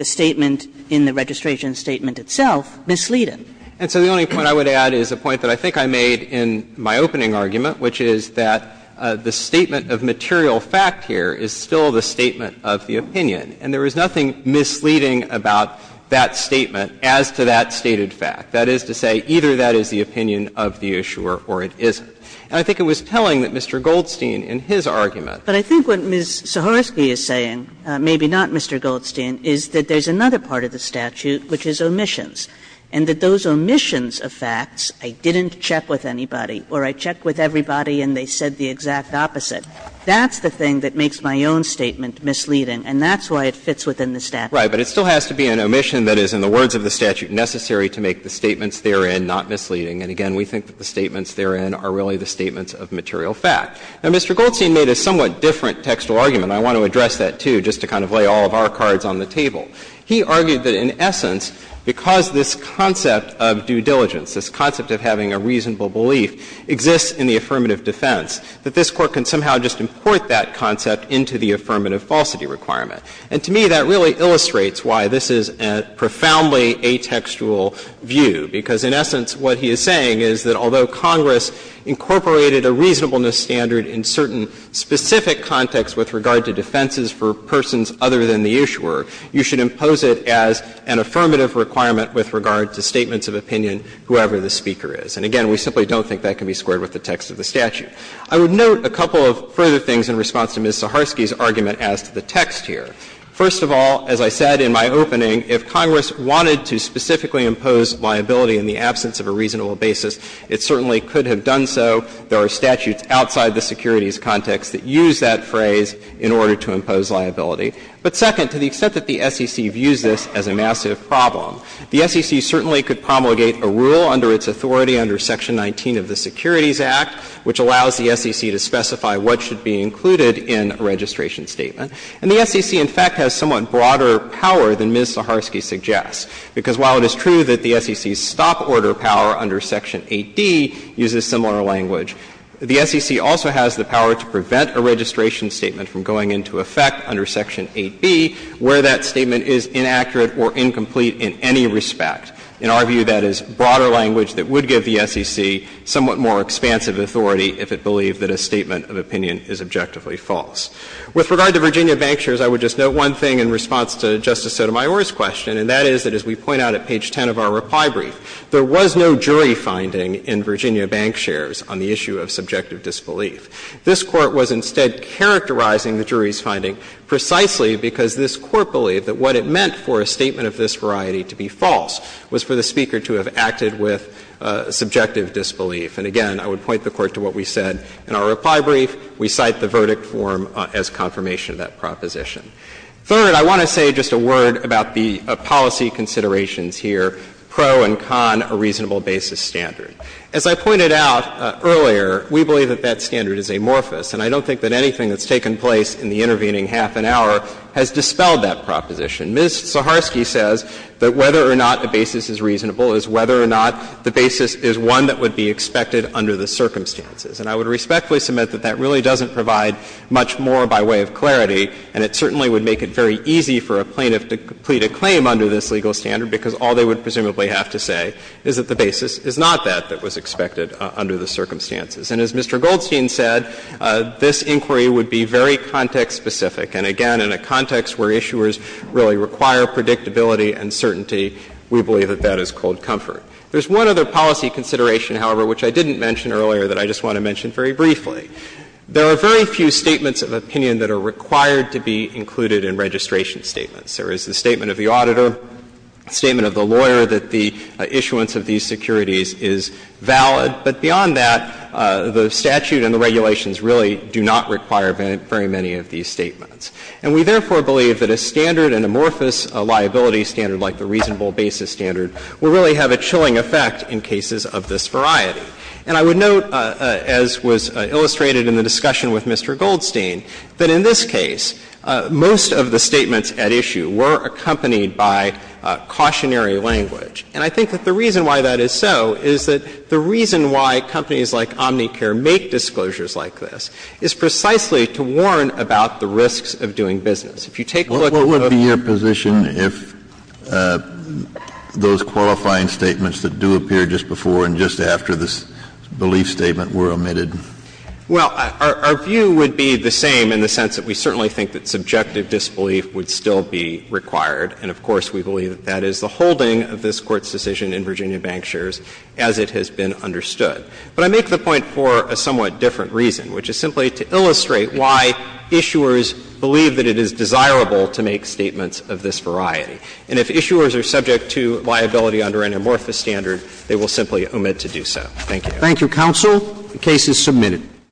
statement in the registration statement itself misleading. And so the only point I would add is a point that I think I made in my opening argument, which is that the statement of material fact here is still the statement of the opinion. And there is nothing misleading about that statement as to that stated fact. That is to say, either that is the opinion of the issuer or it isn't. And I think it was telling that Mr. Goldstein in his argument ---- Kagan. But I think what Ms. Sahorsky is saying, maybe not Mr. Goldstein, is that there's another part of the statute which is omissions, and that those omissions of facts, I didn't check with anybody, or I checked with everybody and they said the exact opposite, that's the thing that makes my own statement misleading, and that's why it fits within the statute. Right. But it still has to be an omission that is, in the words of the statute, necessary to make the statements therein not misleading. And again, we think that the statements therein are really the statements of material fact. Now, Mr. Goldstein made a somewhat different textual argument, and I want to address that, too, just to kind of lay all of our cards on the table. He argued that in essence, because this concept of due diligence, this concept of having a reasonable belief, exists in the affirmative defense, that this Court can somehow just import that concept into the affirmative falsity requirement. And to me, that really illustrates why this is a profoundly atextual view, because in essence what he is saying is that although Congress incorporated a reasonableness standard in certain specific contexts with regard to defenses for persons other than the issuer, you should impose it as an affirmative requirement with regard to statements of opinion, whoever the speaker is. And again, we simply don't think that can be squared with the text of the statute. I would note a couple of further things in response to Ms. Saharsky's argument as to the text here. First of all, as I said in my opening, if Congress wanted to specifically impose liability in the absence of a reasonable basis, it certainly could have done so. There are statutes outside the securities context that use that phrase in order to impose liability. But second, to the extent that the SEC views this as a massive problem, the SEC certainly could promulgate a rule under its authority under Section 19 of the Securities Act, which allows the SEC to specify what should be included in a registration statement. And the SEC, in fact, has somewhat broader power than Ms. Saharsky suggests, because while it is true that the SEC's stop order power under Section 8D uses similar language, the SEC also has the power to prevent a registration statement from going into effect under Section 8B where that statement is inaccurate or incomplete in any respect. In our view, that is broader language that would give the SEC somewhat more expansive authority if it believed that a statement of opinion is objectively false. With regard to Virginia bank shares, I would just note one thing in response to Justice Sotomayor's question, and that is that as we point out at page 10 of our reply brief, there was no jury finding in Virginia bank shares on the issue of subjective disbelief. This Court was instead characterizing the jury's finding precisely because this Court believed that what it meant for a statement of this variety to be false was for the speaker to have acted with subjective disbelief. And again, I would point the Court to what we said in our reply brief. We cite the verdict form as confirmation of that proposition. Third, I want to say just a word about the policy considerations here, pro and con a reasonable basis standard. As I pointed out earlier, we believe that that standard is amorphous, and I don't think that anything that's taken place in the intervening half an hour has dispelled that proposition. Ms. Saharsky says that whether or not a basis is reasonable is whether or not the basis is one that would be expected under the circumstances. And I would respectfully submit that that really doesn't provide much more by way of clarity, and it certainly would make it very easy for a plaintiff to complete a claim under this legal standard because all they would presumably have to say is that the basis is not that that was expected under the circumstances. And as Mr. Goldstein said, this inquiry would be very context-specific. And again, in a context where issuers really require predictability and certainty, we believe that that is cold comfort. There's one other policy consideration, however, which I didn't mention earlier that I just want to mention very briefly. There are very few statements of opinion that are required to be included in registration statements. There is the statement of the auditor, the statement of the lawyer that the issuance of these securities is valid. But beyond that, the statute and the regulations really do not require very many of these statements. And we therefore believe that a standard, an amorphous liability standard like the reasonable basis standard, will really have a chilling effect in cases of this variety. And I would note, as was illustrated in the discussion with Mr. Goldstein, that in this case, most of the statements at issue were accompanied by cautionary language. And I think that the reason why that is so is that the reason why companies like Omnicare make disclosures like this is precisely to warn about the risks of doing business. If you take a look at the book. Kennedy, what would be your position if those qualifying statements that do appear just before and just after this belief statement were omitted? Well, our view would be the same in the sense that we certainly think that subjective disbelief would still be required. And of course, we believe that that is the holding of this Court's decision in Virginia Bank Shares as it has been understood. But I make the point for a somewhat different reason, which is simply to illustrate why issuers believe that it is desirable to make statements of this variety. And if issuers are subject to liability under an amorphous standard, they will simply omit to do so. Thank you. Thank you, counsel. The case is submitted.